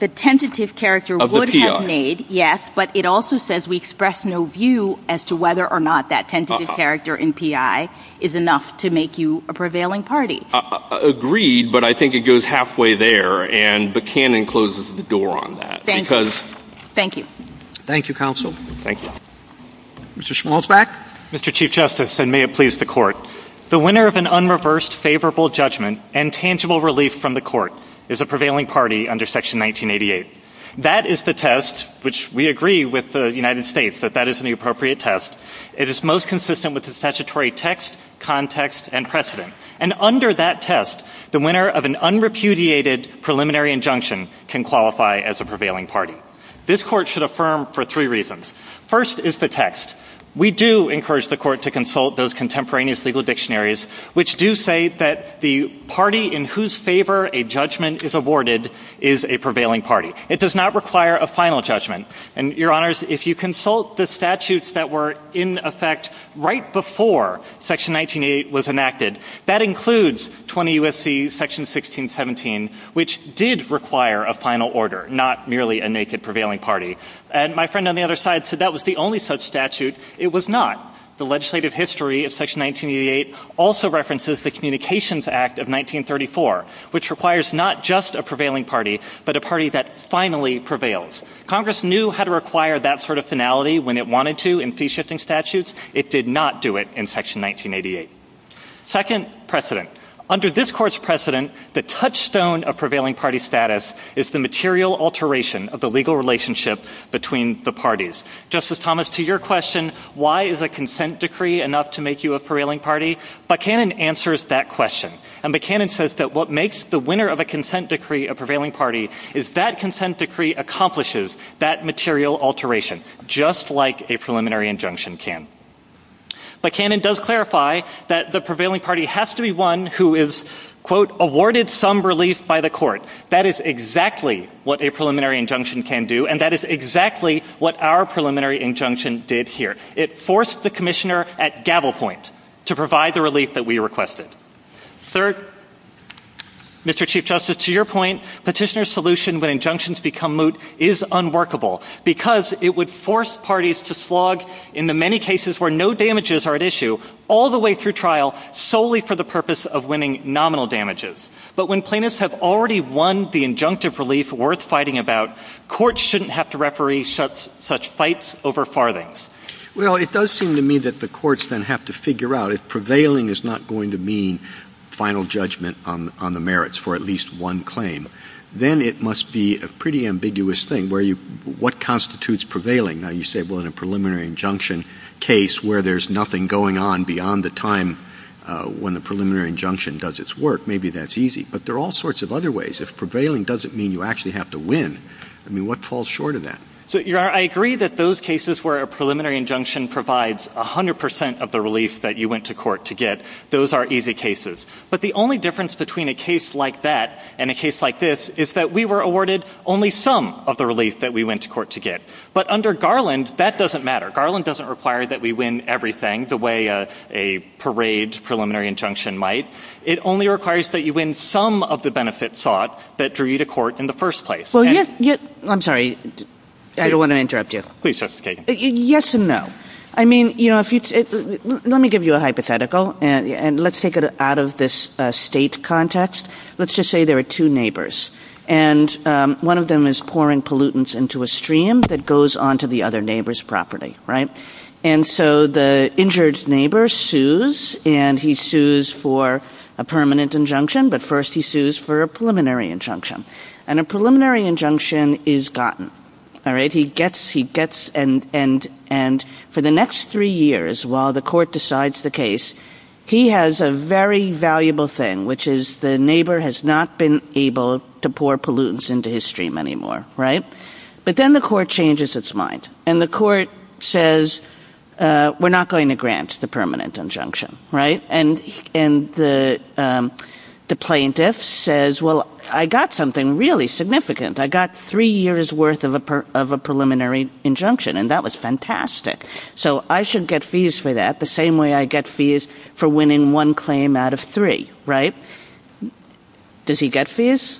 The tentative character would have made, yes, but it also says we express no view as to whether or not that tentative character in PI is enough to make you a prevailing party. Agreed, but I think it goes halfway there, and Buchanan closes the door on that. Thank you. Thank you, counsel. Thank you. Mr. Schmalzbach. Mr. Chief Justice, and may it please the court, the winner of an unreversed favorable judgment and tangible relief from the court is a prevailing party under Section 1988. That is the test, which we agree with the United States that that is an appropriate test. It is most consistent with the statutory text, context, and precedent. And under that test, the winner of an unrepudiated preliminary injunction can qualify as a prevailing party. This court should affirm for three reasons. First is the text. We do encourage the court to consult those contemporaneous legal dictionaries, which do say that the party in whose favor a judgment is awarded is a prevailing party. It does not require a final judgment. And, Your Honors, if you consult the statutes that were in effect right before Section 1988 was enacted, that includes 20 U.S.C. Section 1617, which did require a final order, not merely a naked prevailing party. And my friend on the other side said that was the only such statute. It was not. The legislative history of Section 1988 also references the Communications Act of 1934, which requires not just a prevailing party, but a party that finally prevails. Congress knew how to require that sort of finality when it wanted to in fee-shifting statutes. It did not do it in Section 1988. Second, precedent. Under this court's precedent, the touchstone of prevailing party status is the material alteration of the legal relationship between the parties. Justice Thomas, to your question, why is a consent decree enough to make you a prevailing party, Buchanan answers that question. And Buchanan says that what makes the winner of a consent decree a prevailing party is that consent decree accomplishes that material alteration, just like a preliminary injunction can. Buchanan does clarify that the prevailing party has to be one who is, quote, awarded some relief by the court. That is exactly what a preliminary injunction can do, and that is exactly what our preliminary injunction did here. It forced the commissioner at gavel point to provide the relief that we requested. Third, Mr. Chief Justice, to your point, petitioner's solution when injunctions become moot is unworkable because it would force parties to slog in the many cases where no damages are at issue, all the way through trial, solely for the purpose of winning nominal damages. But when plaintiffs have already won the injunctive relief worth fighting about, courts shouldn't have to referee such fights over farthings. Well, it does seem to me that the courts then have to figure out, if prevailing is not going to mean final judgment on the merits for at least one claim, then it must be a pretty ambiguous thing. What constitutes prevailing? Now, you say, well, in a preliminary injunction case where there's nothing going on beyond the time when the preliminary injunction does its work, maybe that's easy. But there are all sorts of other ways. If prevailing doesn't mean you actually have to win, I mean, what falls short of that? I agree that those cases where a preliminary injunction provides 100 percent of the relief that you went to court to get, those are easy cases. But the only difference between a case like that and a case like this is that we were awarded only some of the relief that we went to court to get. But under Garland, that doesn't matter. Garland doesn't require that we win everything the way a parade preliminary injunction might. It only requires that you win some of the benefits sought that drew you to court in the first place. I'm sorry. I don't want to interrupt you. Please, Justice Kagan. Yes and no. I mean, you know, let me give you a hypothetical, and let's take it out of this state context. Let's just say there are two neighbors. And one of them is pouring pollutants into a stream that goes onto the other neighbor's property, right? And so the injured neighbor sues, and he sues for a permanent injunction, but first he sues for a preliminary injunction. And a preliminary injunction is gotten. And for the next three years, while the court decides the case, he has a very valuable thing, which is the neighbor has not been able to pour pollutants into his stream anymore, right? But then the court changes its mind, and the court says, we're not going to grant the permanent injunction, right? And the plaintiff says, well, I got something really significant. I got three years' worth of a preliminary injunction, and that was fantastic. So I should get fees for that the same way I get fees for winning one claim out of three, right? Does he get fees?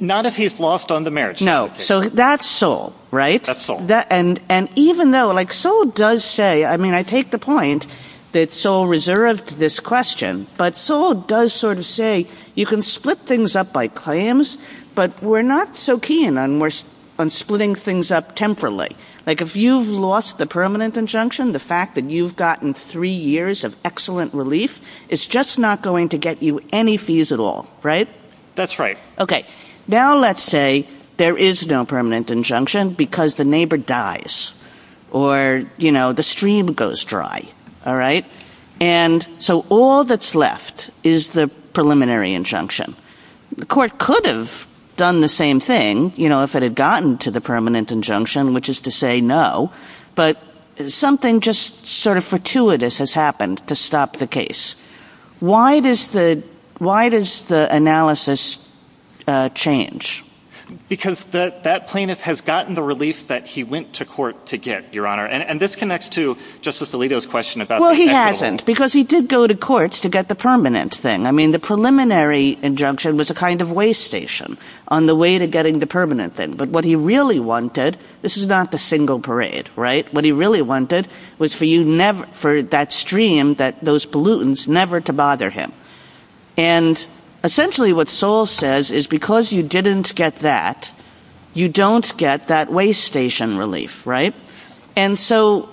Not if he's lost on the merits. No. So that's Sewell, right? That's Sewell. And even though, like Sewell does say, I mean, I take the point that Sewell reserved this question, but Sewell does sort of say you can split things up by claims, but we're not so keen on splitting things up temporarily. Like if you've lost the permanent injunction, the fact that you've gotten three years of excellent relief, it's just not going to get you any fees at all, right? That's right. Okay. Now let's say there is no permanent injunction because the neighbor dies or, you know, the stream goes dry, all right? And so all that's left is the preliminary injunction. The court could have done the same thing, you know, if it had gotten to the permanent injunction, which is to say no, but something just sort of fortuitous has happened to stop the case. Why does the analysis change? Because that plaintiff has gotten the relief that he went to court to get, Your Honor, and this connects to Justice Alito's question about the penalty. Well, he hasn't because he did go to courts to get the permanent thing. I mean, the preliminary injunction was a kind of way station on the way to getting the permanent thing, but what he really wanted, this is not the single parade, right? What he really wanted was for that stream, those pollutants, never to bother him. And essentially what Sol says is because you didn't get that, you don't get that way station relief, right? And so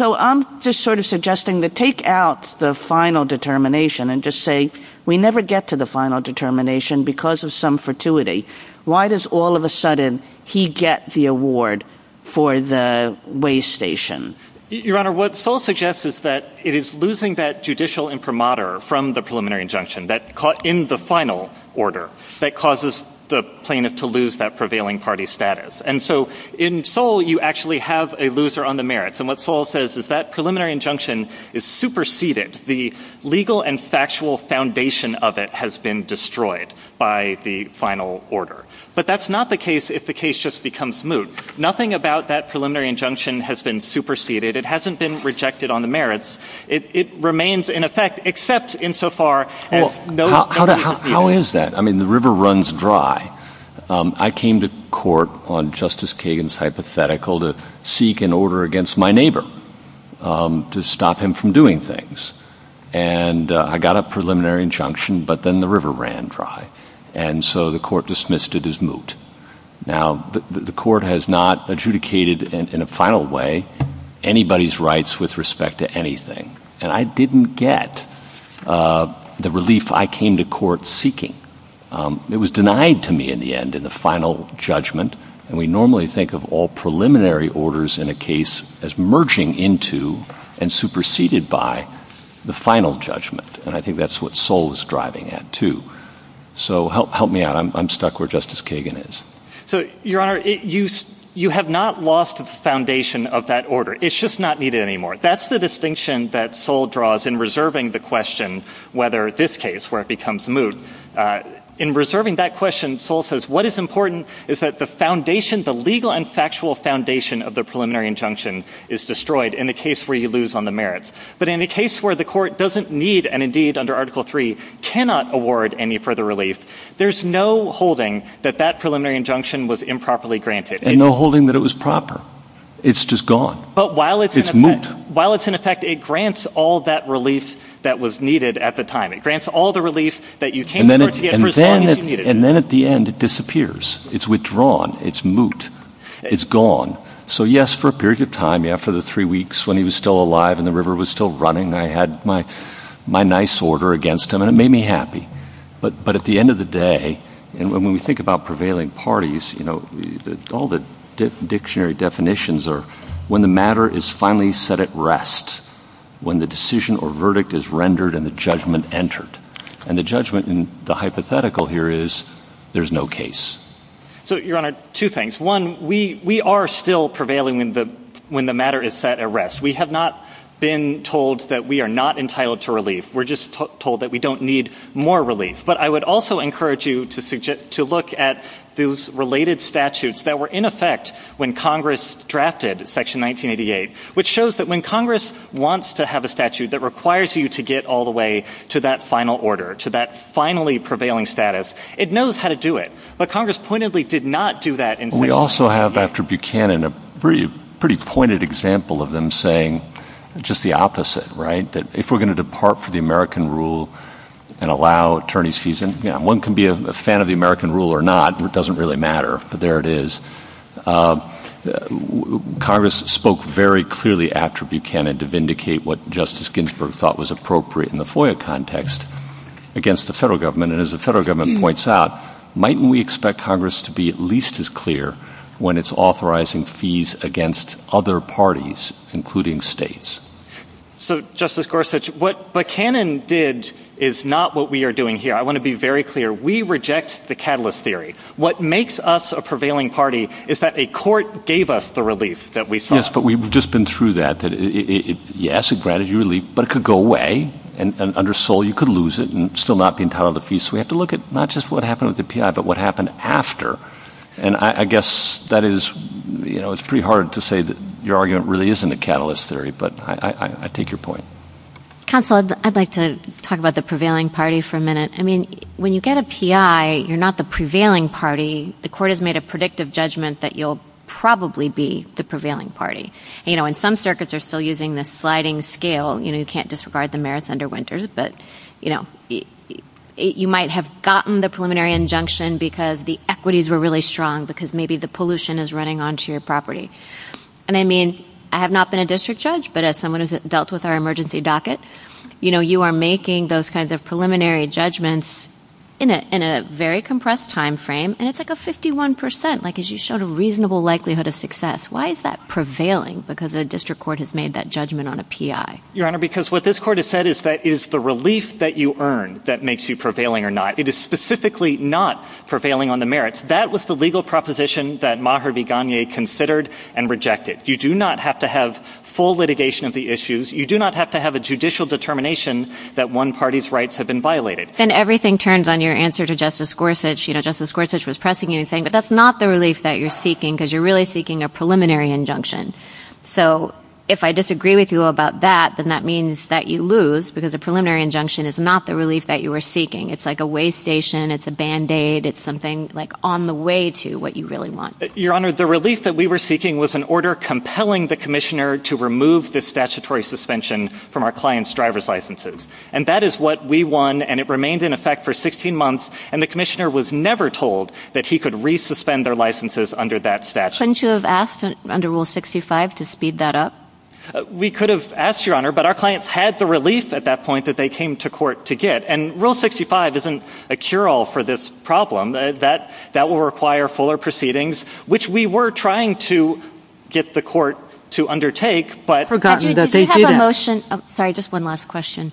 I'm just sort of suggesting to take out the final determination and just say we never get to the final determination because of some fortuity. Why does all of a sudden he get the award for the way station? Your Honor, what Sol suggests is that it is losing that judicial imprimatur from the preliminary injunction that caught in the final order that causes the plaintiff to lose that prevailing party status. And so in Sol, you actually have a loser on the merits. And what Sol says is that preliminary injunction is superseded. The legal and factual foundation of it has been destroyed by the final order. But that's not the case if the case just becomes moot. Nothing about that preliminary injunction has been superseded. It hasn't been rejected on the merits. It remains in effect except insofar as no— How is that? I mean, the river runs dry. I came to court on Justice Kagan's hypothetical to seek an order against my neighbor to stop him from doing things. And I got a preliminary injunction, but then the river ran dry. And so the court dismissed it as moot. Now, the court has not adjudicated in a final way anybody's rights with respect to anything. And I didn't get the relief I came to court seeking. It was denied to me in the end in the final judgment. And we normally think of all preliminary orders in a case as merging into and superseded by the final judgment. And I think that's what Sol is driving at, too. So help me out. I'm stuck where Justice Kagan is. So, Your Honor, you have not lost the foundation of that order. It's just not needed anymore. That's the distinction that Sol draws in reserving the question whether this case, where it becomes moot, in reserving that question, Sol says, what is important is that the foundation, the legal and factual foundation of the preliminary injunction is destroyed in the case where you lose on the merits. But in a case where the court doesn't need and, indeed, under Article III, cannot award any further relief, there's no holding that that preliminary injunction was improperly granted. And no holding that it was proper. It's just gone. It's moot. So while it's in effect, it grants all that relief that was needed at the time. It grants all the relief that you came to receive. And then at the end, it disappears. It's withdrawn. It's moot. It's gone. So, yes, for a period of time, after the three weeks when he was still alive and the river was still running, I had my nice order against him. And it made me happy. But at the end of the day, when we think about prevailing parties, you know, all the dictionary definitions are when the matter is finally set at rest, when the decision or verdict is rendered and the judgment entered. And the judgment and the hypothetical here is there's no case. So, Your Honor, two things. One, we are still prevailing when the matter is set at rest. We have not been told that we are not entitled to relief. We're just told that we don't need more relief. But I would also encourage you to look at those related statutes that were in effect when Congress drafted Section 1988, which shows that when Congress wants to have a statute that requires you to get all the way to that final order, to that finally prevailing status, it knows how to do it. But Congress pointedly did not do that. We also have after Buchanan a pretty pointed example of them saying just the opposite, right, that if we're going to depart from the American rule and allow attorney's fees, and, you know, one can be a fan of the American rule or not, and it doesn't really matter. But there it is. Congress spoke very clearly after Buchanan to vindicate what Justice Ginsburg thought was appropriate in the FOIA context against the federal government. And as the federal government points out, might we expect Congress to be at least as clear when it's authorizing fees against other parties, including states? So, Justice Gorsuch, what Buchanan did is not what we are doing here. I want to be very clear. We reject the catalyst theory. What makes us a prevailing party is that a court gave us the relief that we sought. Yes, but we've just been through that. Yes, it granted you relief, but it could go away. And under Seoul, you could lose it and still not be entitled to fees. So we have to look at not just what happened with the P.I., but what happened after. And I guess that is, you know, it's pretty hard to say that your argument really isn't a catalyst theory. But I take your point. Counsel, I'd like to talk about the prevailing party for a minute. I mean, when you get a P.I., you're not the prevailing party. The court has made a predictive judgment that you'll probably be the prevailing party. You know, and some circuits are still using the sliding scale. You know, you can't disregard the merits under Winters. But, you know, you might have gotten the preliminary injunction because the equities were really strong because maybe the pollution is running onto your property. And I mean, I have not been a district judge, but as someone who has dealt with our emergency docket, you know, you are making those kinds of preliminary judgments in a very compressed time frame. And it's like a 51 percent, like as you showed a reasonable likelihood of success. Why is that prevailing? Because the district court has made that judgment on a P.I. Your Honor, because what this court has said is that it is the relief that you earn that makes you prevailing or not. It is specifically not prevailing on the merits. That was the legal proposition that Maher Begani considered and rejected. You do not have to have full litigation of the issues. You do not have to have a judicial determination that one party's rights have been violated. And everything turns on your answer to Justice Gorsuch. You know, Justice Gorsuch was pressing you and saying, but that's not the relief that you're seeking because you're really seeking a preliminary injunction. So if I disagree with you about that, then that means that you lose because the preliminary injunction is not the relief that you were seeking. It's like a weigh station. It's a Band-Aid. It's something like on the way to what you really want. Your Honor, the relief that we were seeking was an order compelling the commissioner to remove the statutory suspension from our client's driver's licenses. And that is what we won. And it remained in effect for 16 months. And the commissioner was never told that he could re-suspend their licenses under that statute. Couldn't you have asked under Rule 65 to speed that up? We could have asked, Your Honor, but our clients had the relief at that point that they came to court to get. And Rule 65 isn't a cure-all for this problem. That will require fuller proceedings, which we were trying to get the court to undertake, but. Did you have a motion? Sorry, just one last question.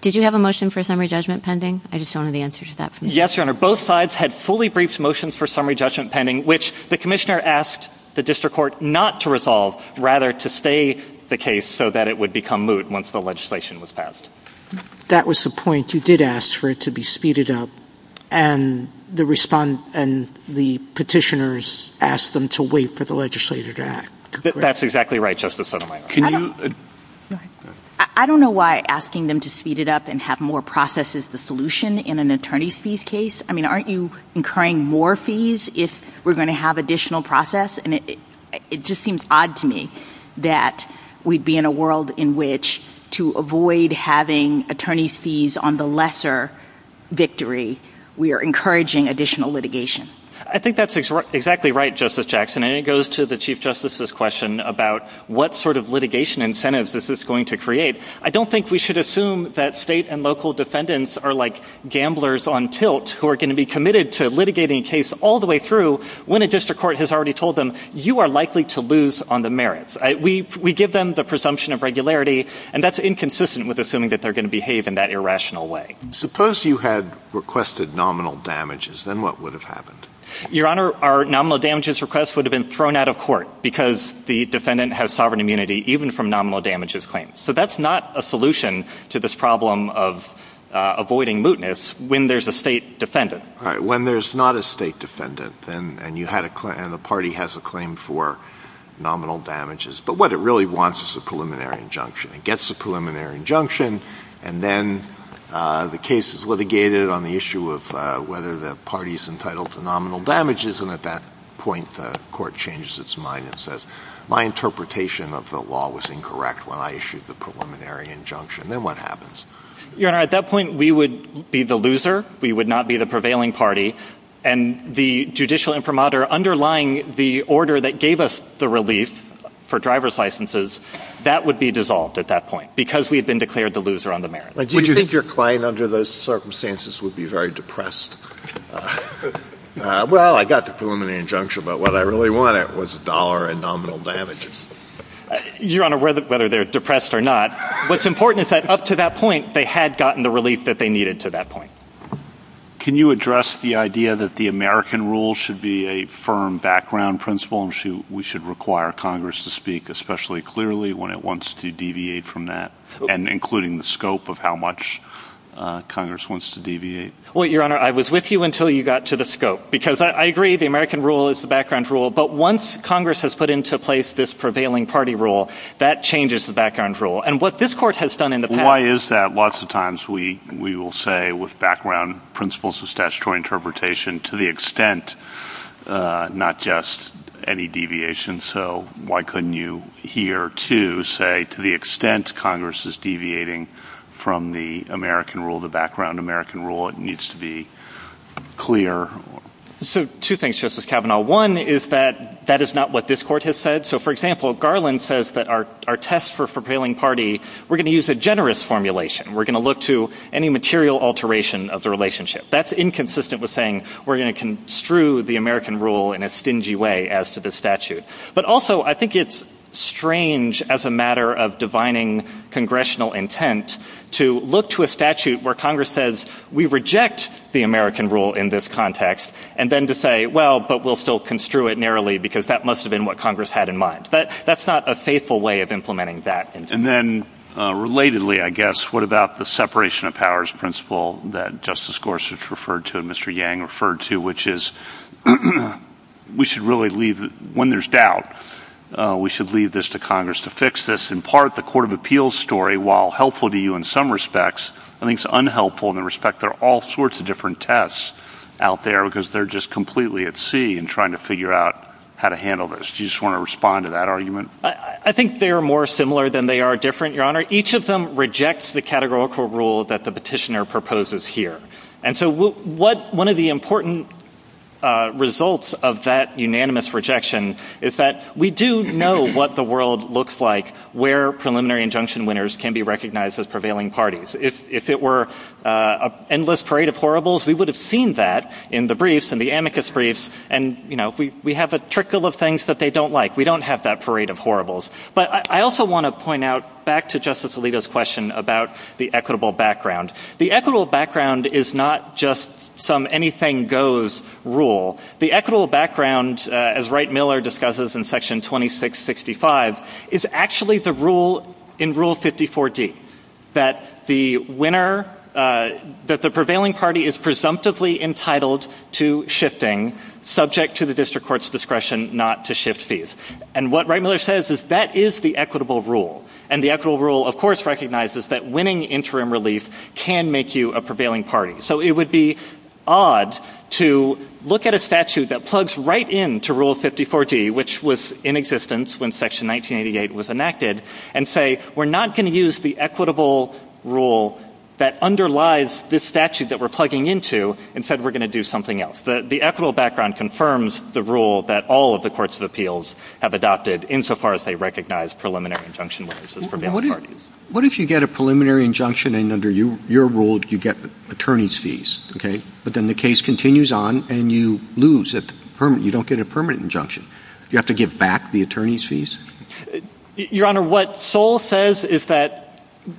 Did you have a motion for summary judgment pending? I just don't know the answer to that. Yes, Your Honor. Both sides had fully briefed motions for summary judgment pending, which the commissioner asked the district court not to resolve, rather to stay the case so that it would become moot once the legislation was passed. That was the point. You did ask for it to be speeded up. And the petitioners asked them to wait for the legislature to act. That's exactly right, Justice Sotomayor. I don't know why asking them to speed it up and have more process is the solution in an attorney's fees case. I mean, aren't you incurring more fees if we're going to have additional process? It just seems odd to me that we'd be in a world in which to avoid having attorney's fees on the lesser victory, we are encouraging additional litigation. I think that's exactly right, Justice Jackson. And it goes to the Chief Justice's question about what sort of litigation incentives this is going to create. I don't think we should assume that state and local defendants are like gamblers on tilt who are going to be committed to litigating a case all the way through when a district court has already told them, you are likely to lose on the merits. We give them the presumption of regularity, and that's inconsistent with assuming that they're going to behave in that irrational way. Suppose you had requested nominal damages, then what would have happened? Your Honor, our nominal damages request would have been thrown out of court because the defendant has sovereign immunity even from nominal damages claims. So that's not a solution to this problem of avoiding mootness when there's a state defendant. When there's not a state defendant and the party has a claim for nominal damages, but what it really wants is a preliminary injunction. It gets a preliminary injunction, and then the case is litigated on the issue of whether the party is entitled to nominal damages, and at that point the court changes its mind and says, My interpretation of the law was incorrect when I issued the preliminary injunction. Then what happens? Your Honor, at that point we would be the loser. We would not be the prevailing party, and the judicial inframata underlying the order that gave us the relief for driver's licenses, that would be dissolved at that point because we had been declared the loser on the merits. Do you think your client under those circumstances would be very depressed? Well, I got the preliminary injunction, but what I really wanted was a dollar in nominal damages. Your Honor, whether they're depressed or not, what's important is that up to that point they had gotten the relief that they needed to that point. Can you address the idea that the American rule should be a firm background principle and we should require Congress to speak especially clearly when it wants to deviate from that, and including the scope of how much Congress wants to deviate? Well, Your Honor, I was with you until you got to the scope, because I agree the American rule is the background rule, but once Congress has put into place this prevailing party rule, that changes the background rule, and what this court has done in the past— Why is that? Lots of times we will say with background principles of statutory interpretation, to the extent, not just any deviation, so why couldn't you here, too, say to the extent Congress is deviating from the American rule, the background American rule, it needs to be clear? So, two things, Justice Kavanaugh. One is that that is not what this court has said. So, for example, Garland says that our test for prevailing party, we're going to use a generous formulation. We're going to look to any material alteration of the relationship. That's inconsistent with saying we're going to construe the American rule in a stingy way as to the statute. But also, I think it's strange as a matter of divining congressional intent to look to a statute where Congress says we reject the American rule in this context, and then to say, well, but we'll still construe it narrowly, because that must have been what Congress had in mind. That's not a faithful way of implementing that. And then, relatedly, I guess, what about the separation of powers principle that Justice Gorsuch referred to and Mr. Yang referred to, which is we should really leave—when there's doubt, we should leave this to Congress to fix this. In part, the Court of Appeals story, while helpful to you in some respects, I think it's unhelpful in the respect there are all sorts of different tests out there because they're just completely at sea in trying to figure out how to handle this. Do you just want to respond to that argument? I think they're more similar than they are different, Your Honor. Each of them rejects the categorical rule that the petitioner proposes here. And so one of the important results of that unanimous rejection is that we do know what the world looks like where preliminary injunction winners can be recognized as prevailing parties. If it were an endless parade of horribles, we would have seen that in the briefs, in the amicus briefs, and we have a trickle of things that they don't like. We don't have that parade of horribles. But I also want to point out, back to Justice Alito's question about the equitable background, the equitable background is not just some anything-goes rule. The equitable background, as Wright-Miller discusses in Section 2665, is actually the rule in Rule 54D, that the prevailing party is presumptively entitled to shifting subject to the district court's discretion not to shift fees. And what Wright-Miller says is that is the equitable rule. And the equitable rule, of course, recognizes that winning interim relief can make you a prevailing party. So it would be odd to look at a statute that plugs right into Rule 54D, which was in existence when Section 1988 was enacted, and say, we're not going to use the equitable rule that underlies this statute that we're plugging into and said we're going to do something else. The equitable background confirms the rule that all of the courts of appeals have adopted insofar as they recognize preliminary injunction winners as prevailing parties. What if you get a preliminary injunction and under your rule you get attorney's fees? But then the case continues on and you lose. You don't get a permanent injunction. Do you have to give back the attorney's fees? Your Honor, what Sol says is that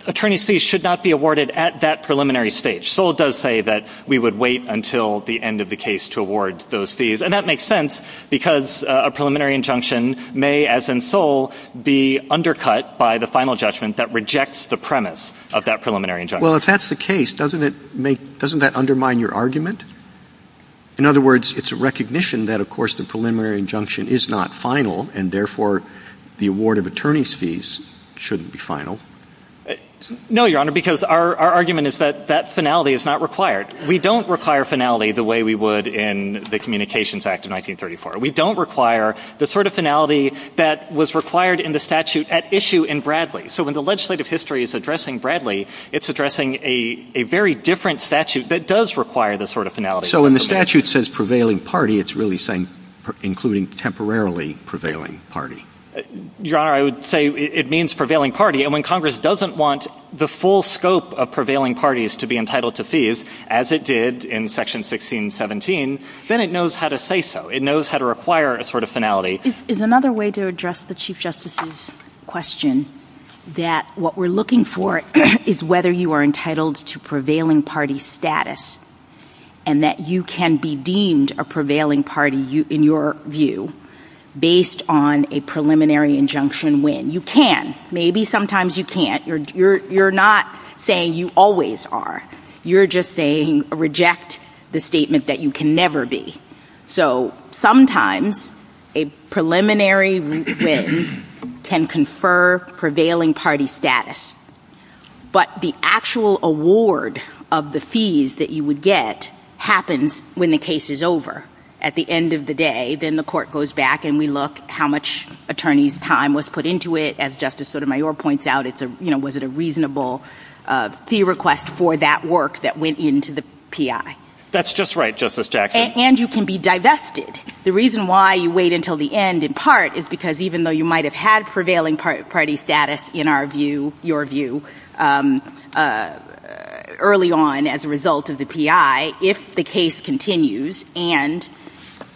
attorney's fees should not be awarded at that preliminary stage. Sol does say that we would wait until the end of the case to award those fees. And that makes sense because a preliminary injunction may, as in Sol, be undercut by the final judgment that rejects the premise of that preliminary injunction. Well, if that's the case, doesn't that undermine your argument? In other words, it's a recognition that, of course, the preliminary injunction is not final, and therefore the award of attorney's fees shouldn't be final. No, Your Honor, because our argument is that that finality is not required. We don't require finality the way we would in the Communications Act of 1934. We don't require the sort of finality that was required in the statute at issue in Bradley. So when the legislative history is addressing Bradley, it's addressing a very different statute that does require this sort of finality. So when the statute says prevailing party, it's really saying including temporarily prevailing party. Your Honor, I would say it means prevailing party. And when Congress doesn't want the full scope of prevailing parties to be entitled to fees, as it did in Section 1617, then it knows how to say so. It knows how to require a sort of finality. Is another way to address the Chief Justice's question, that what we're looking for is whether you are entitled to prevailing party status and that you can be deemed a prevailing party in your view based on a preliminary injunction when you can. Maybe sometimes you can't. You're not saying you always are. You're just saying reject the statement that you can never be. So sometimes a preliminary win can confer prevailing party status. But the actual award of the fees that you would get happens when the case is over. At the end of the day, then the court goes back and we look how much attorney's time was put into it. As Justice Sotomayor points out, was it a reasonable fee request for that work that went into the P.I.? That's just right, Justice Jackson. And you can be divested. The reason why you wait until the end in part is because even though you might have had prevailing party status in our view, your view early on as a result of the P.I., if the case continues and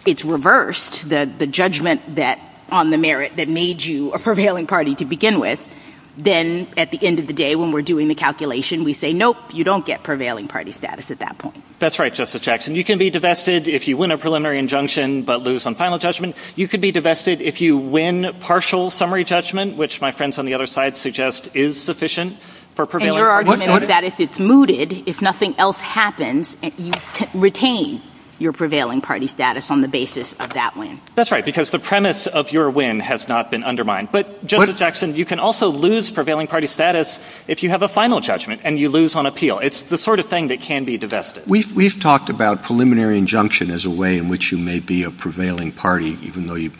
it's reversed, the judgment on the merit that made you a prevailing party to begin with, then at the end of the day when we're doing the calculation, we say, nope, you don't get prevailing party status at that point. That's right, Justice Jackson. You can be divested if you win a preliminary injunction but lose on final judgment. You can be divested if you win partial summary judgment, which my friends on the other side suggest is sufficient for prevailing. And your argument is that if it's mooted, if nothing else happens, you retain your prevailing party status on the basis of that win. That's right, because the premise of your win has not been undermined. But, Justice Jackson, you can also lose prevailing party status if you have a final judgment and you lose on appeal. It's the sort of thing that can be divested. We've talked about preliminary injunction as a way in which you may be a prevailing party even though you're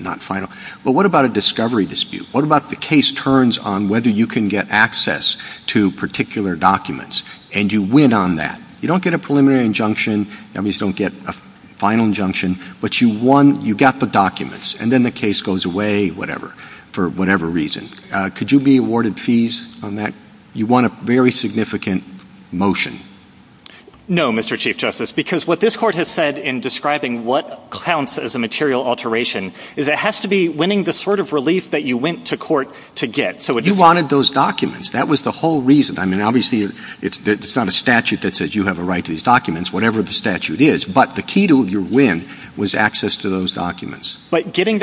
not final. But what about a discovery dispute? What about the case turns on whether you can get access to particular documents and you win on that? You don't get a preliminary injunction. Enemies don't get a final injunction. But you won. You got the documents. And then the case goes away, whatever, for whatever reason. Could you be awarded fees on that? You won a very significant motion. No, Mr. Chief Justice, because what this Court has said in describing what counts as a material alteration is it has to be winning the sort of relief that you went to court to get. You wanted those documents. That was the whole reason. I mean, obviously, it's not a statute that says you have a right to these documents, whatever the statute is. But the key to your win was access to those documents. But getting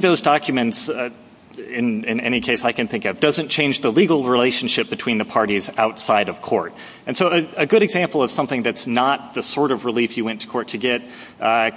those documents, in any case I can think of, doesn't change the legal relationship between the parties outside of court. And so a good example of something that's not the sort of relief you went to court to get,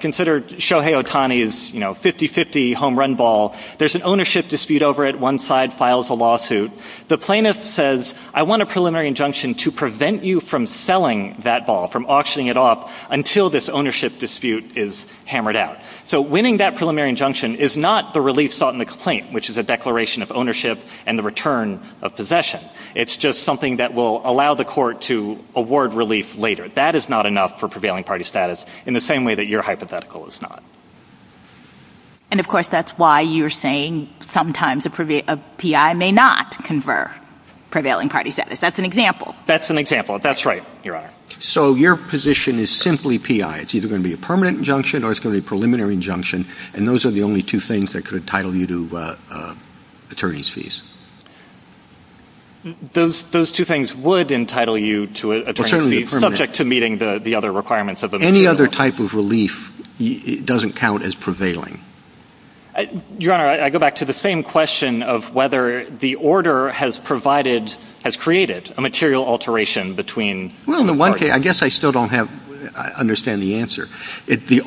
consider Shohei Otani's 50-50 home run ball. There's an ownership dispute over it. One side files a lawsuit. The plaintiff says, I want a preliminary injunction to prevent you from selling that ball, from auctioning it off, until this ownership dispute is hammered out. So winning that preliminary injunction is not the relief sought in the complaint, which is a declaration of ownership and the return of possession. It's just something that will allow the court to award relief later. That is not enough for prevailing party status in the same way that your hypothetical is not. And, of course, that's why you're saying sometimes a PI may not confer prevailing party status. That's an example. That's an example. That's right, Your Honor. So your position is simply PI. It's either going to be a permanent injunction or it's going to be a preliminary injunction. And those are the only two things that could entitle you to attorney's fees. Those two things would entitle you to attorney's fees, subject to meeting the other requirements of the material. Any other type of relief doesn't count as prevailing. Your Honor, I go back to the same question of whether the order has provided, has created, a material alteration between the parties. Well, in one case, I guess I still don't understand the answer. The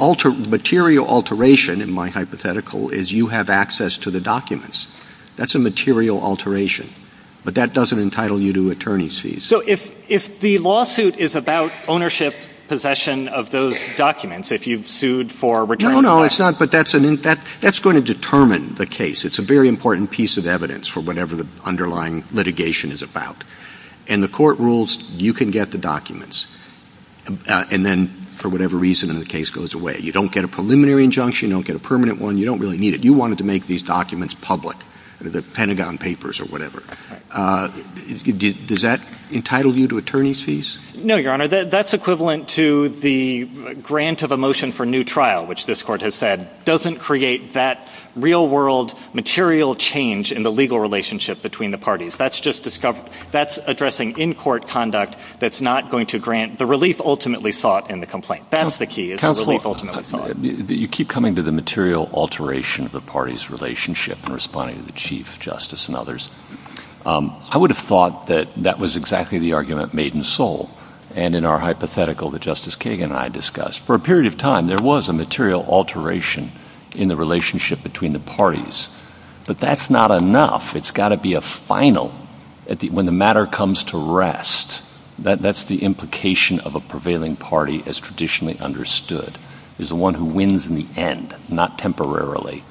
material alteration in my hypothetical is you have access to the documents. That's a material alteration. But that doesn't entitle you to attorney's fees. So if the lawsuit is about ownership, possession of those documents, if you've sued for a return of possession. No, no, it's not. But that's going to determine the case. It's a very important piece of evidence for whatever the underlying litigation is about. And the court rules you can get the documents. And then, for whatever reason, the case goes away. You don't get a preliminary injunction. You don't get a permanent one. You don't really need it. You wanted to make these documents public, the Pentagon Papers or whatever. Does that entitle you to attorney's fees? No, Your Honor. That's equivalent to the grant of a motion for new trial, which this court has said, doesn't create that real-world material change in the legal relationship between the parties. That's just addressing in-court conduct that's not going to grant the relief ultimately sought in the complaint. That's the key, is the relief ultimately sought. Counselor, you keep coming to the material alteration of the parties' relationship in responding to the Chief Justice and others. I would have thought that that was exactly the argument made in Seoul and in our hypothetical that Justice Kagan and I discussed. For a period of time, there was a material alteration in the relationship between the parties. But that's not enough. It's got to be a final. When the matter comes to rest, that's the implication of a prevailing party as traditionally understood. It's the one who wins in the end, not temporarily.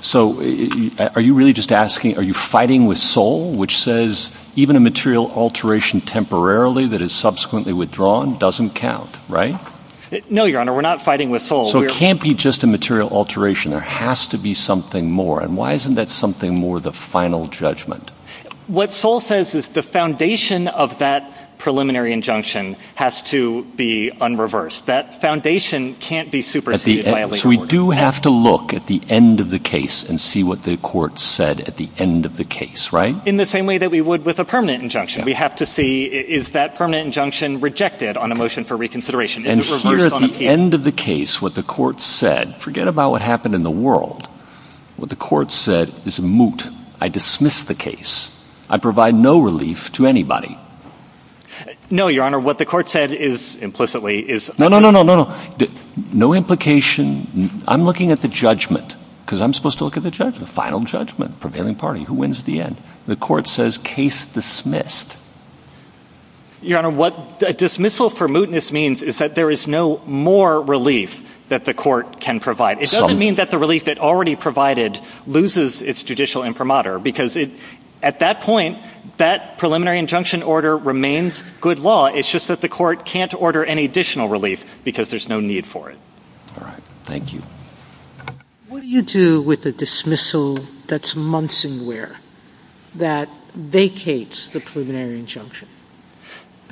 So are you really just asking, are you fighting with Seoul, which says even a material alteration temporarily that is subsequently withdrawn doesn't count, right? No, Your Honor. We're not fighting with Seoul. So it can't be just a material alteration. There has to be something more. And why isn't that something more, the final judgment? What Seoul says is the foundation of that preliminary injunction has to be unreversed. That foundation can't be superseded by a legal order. So we do have to look at the end of the case and see what the court said at the end of the case, right? In the same way that we would with a permanent injunction. We have to see, is that permanent injunction rejected on a motion for reconsideration? And see at the end of the case what the court said. Forget about what happened in the world. What the court said is moot. I dismiss the case. I provide no relief to anybody. No, Your Honor. What the court said is implicitly is. No, no, no, no, no, no. No implication. I'm looking at the judgment because I'm supposed to look at the judge, the final judgment, prevailing party who wins the end. The court says case dismissed. Your Honor, what a dismissal for mootness means is that there is no more relief that the court can provide. It doesn't mean that the relief it already provided loses its judicial imprimatur. Because at that point, that preliminary injunction order remains good law. It's just that the court can't order any additional relief because there's no need for it. All right. Thank you. What do you do with a dismissal that's muncingware, that vacates the preliminary injunction?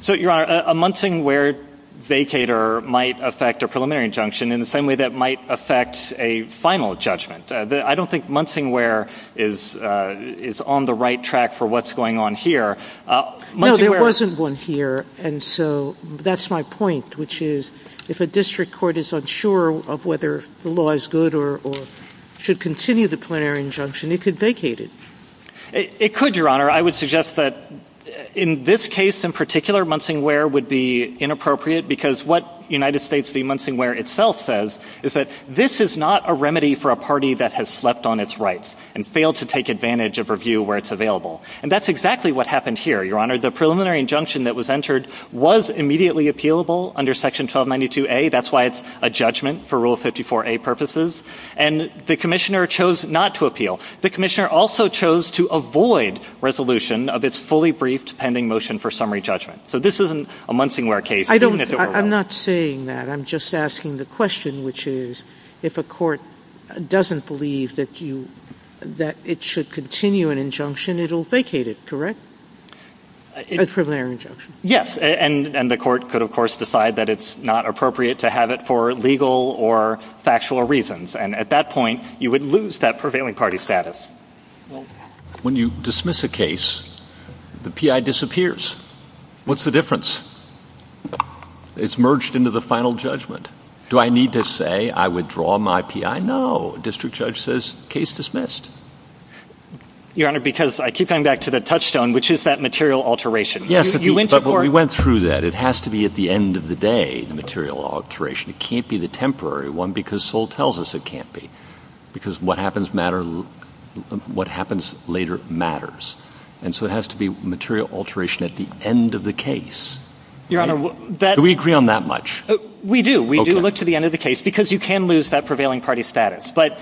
So, Your Honor, a muncingware vacater might affect a preliminary injunction in the same way that might affect a final judgment. I don't think muncingware is on the right track for what's going on here. No, there wasn't one here. And so that's my point, which is if a district court is unsure of whether the law is good or should continue the preliminary injunction, it could vacate it. It could, Your Honor. I would suggest that in this case in particular, muncingware would be inappropriate because what United States v. Muncingware itself says is that this is not a remedy for a party that has slept on its rights and failed to take advantage of review where it's available. And that's exactly what happened here, Your Honor. The preliminary injunction that was entered was immediately appealable under Section 1292A. That's why it's a judgment for Rule 54A purposes. And the commissioner chose not to appeal. The commissioner also chose to avoid resolution of its fully briefed pending motion for summary judgment. So this isn't a muncingware case. I'm not saying that. I'm just asking the question, which is if a court doesn't believe that it should continue an injunction, it will vacate it, correct? A preliminary injunction. Yes. And the court could, of course, decide that it's not appropriate to have it for legal or factual reasons. And at that point, you would lose that prevailing party status. When you dismiss a case, the PI disappears. What's the difference? It's merged into the final judgment. Do I need to say I withdraw my PI? No. District judge says case dismissed. Your Honor, because I keep coming back to the touchstone, which is that material alteration. Yes, but we went through that. It has to be at the end of the day, the material alteration. It can't be the temporary one because Seoul tells us it can't be because what happens later matters. And so it has to be material alteration at the end of the case. Do we agree on that much? We do. We do look to the end of the case because you can lose that prevailing party status. But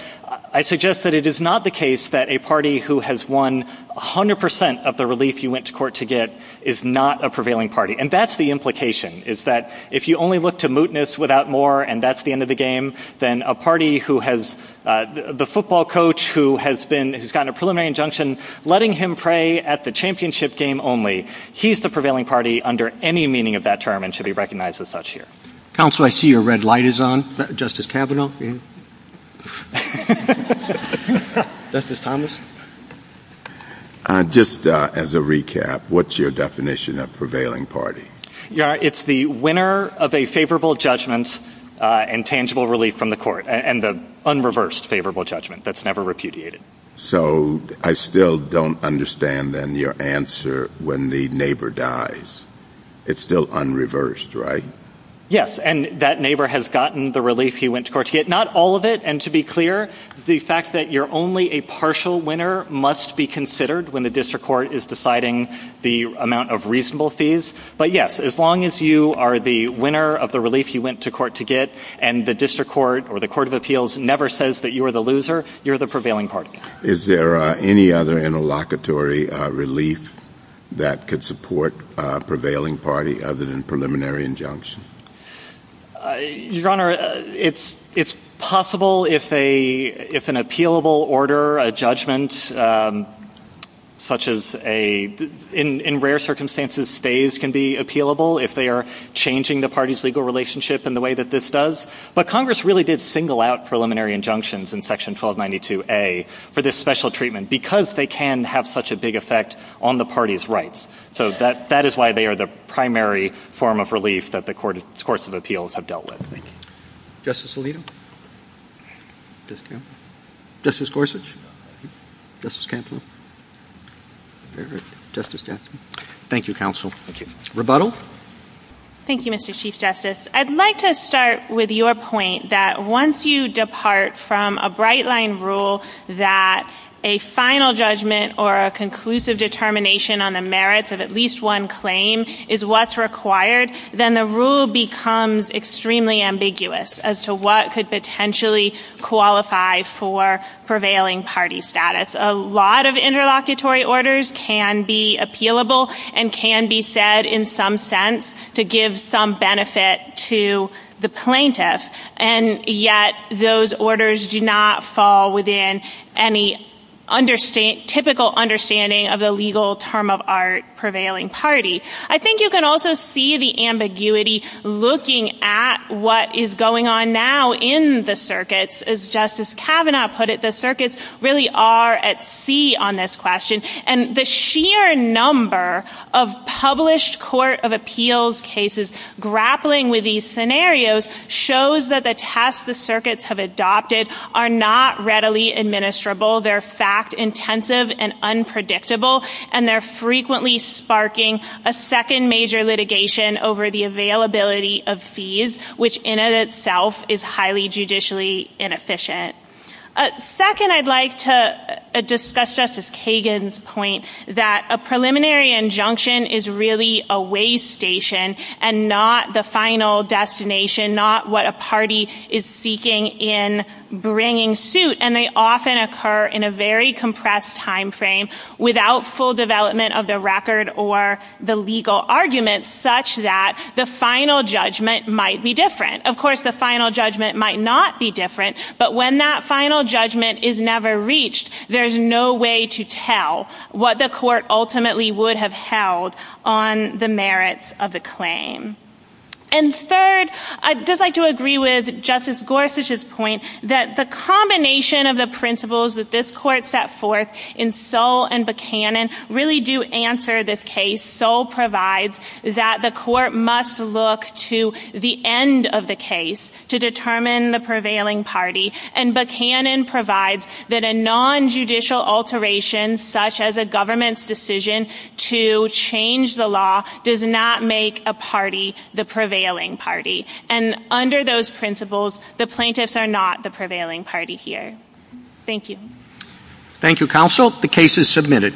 I suggest that it is not the case that a party who has won 100 percent of the relief you went to court to get is not a prevailing party. And that's the implication, is that if you only look to mootness without more and that's the end of the game, then the football coach who has gotten a preliminary injunction, letting him pray at the championship game only, he's the prevailing party under any meaning of that term and should be recognized as such here. Counsel, I see your red light is on. Justice Kavanaugh? Justice Thomas? Just as a recap, what's your definition of prevailing party? It's the winner of a favorable judgment and tangible relief from the court and the unreversed favorable judgment that's never repudiated. So I still don't understand, then, your answer when the neighbor dies. It's still unreversed, right? Yes. And that neighbor has gotten the relief he went to court to get. Not all of it. And to be clear, the fact that you're only a partial winner must be considered when the district court is deciding the amount of reasonable fees. But, yes, as long as you are the winner of the relief you went to court to get and the district court or the court of appeals never says that you're the loser, you're the prevailing party. Is there any other interlocutory relief that could support prevailing party other than preliminary injunction? Your Honor, it's possible if an appealable order, a judgment, such as in rare circumstances stays can be appealable, if they are changing the party's legal relationship in the way that this does. But Congress really did single out preliminary injunctions in Section 1292A for this special treatment because they can have such a big effect on the party's rights. So that is why they are the primary form of relief that the courts of appeals have dealt with. Thank you. Justice Alito? Justice Gorsuch? Thank you, counsel. Thank you. Rebuttal? Thank you, Mr. Chief Justice. I'd like to start with your point that once you depart from a bright-line rule that a final judgment or a conclusive determination on the merits of at least one claim is what's required, then the rule becomes extremely ambiguous as to what could potentially qualify for prevailing party status. A lot of interlocutory orders can be appealable and can be said in some sense to give some benefit to the plaintiff. And yet those orders do not fall within any typical understanding of the legal term of art prevailing party. I think you can also see the ambiguity looking at what is going on now in the circuits. As Justice Kavanaugh put it, the circuits really are at sea on this question. And the sheer number of published court of appeals cases grappling with these scenarios shows that the tasks the circuits have adopted are not readily administrable. They're fact-intensive and unpredictable, and they're frequently sparking a second major litigation over the availability of fees, which in and of itself is highly judicially inefficient. Second, I'd like to discuss Justice Kagan's point that a preliminary injunction is really a way station and not the final destination, not what a party is seeking in bringing suit. And they often occur in a very compressed time frame without full development of the record or the legal argument, such that the final judgment might be different. Of course, the final judgment might not be different, but when that final judgment is never reached, there's no way to tell what the court ultimately would have held on the merits of the claim. And third, I'd just like to agree with Justice Gorsuch's point that the combination of the principles that this court set forth in Soll and Buchanan really do answer this case. Soll provides that the court must look to the end of the case to determine the prevailing party, and Buchanan provides that a nonjudicial alteration, such as a government's decision to change the law, does not make a party the prevailing party. And under those principles, the plaintiffs are not the prevailing party here. Thank you. Thank you, counsel. The case is submitted.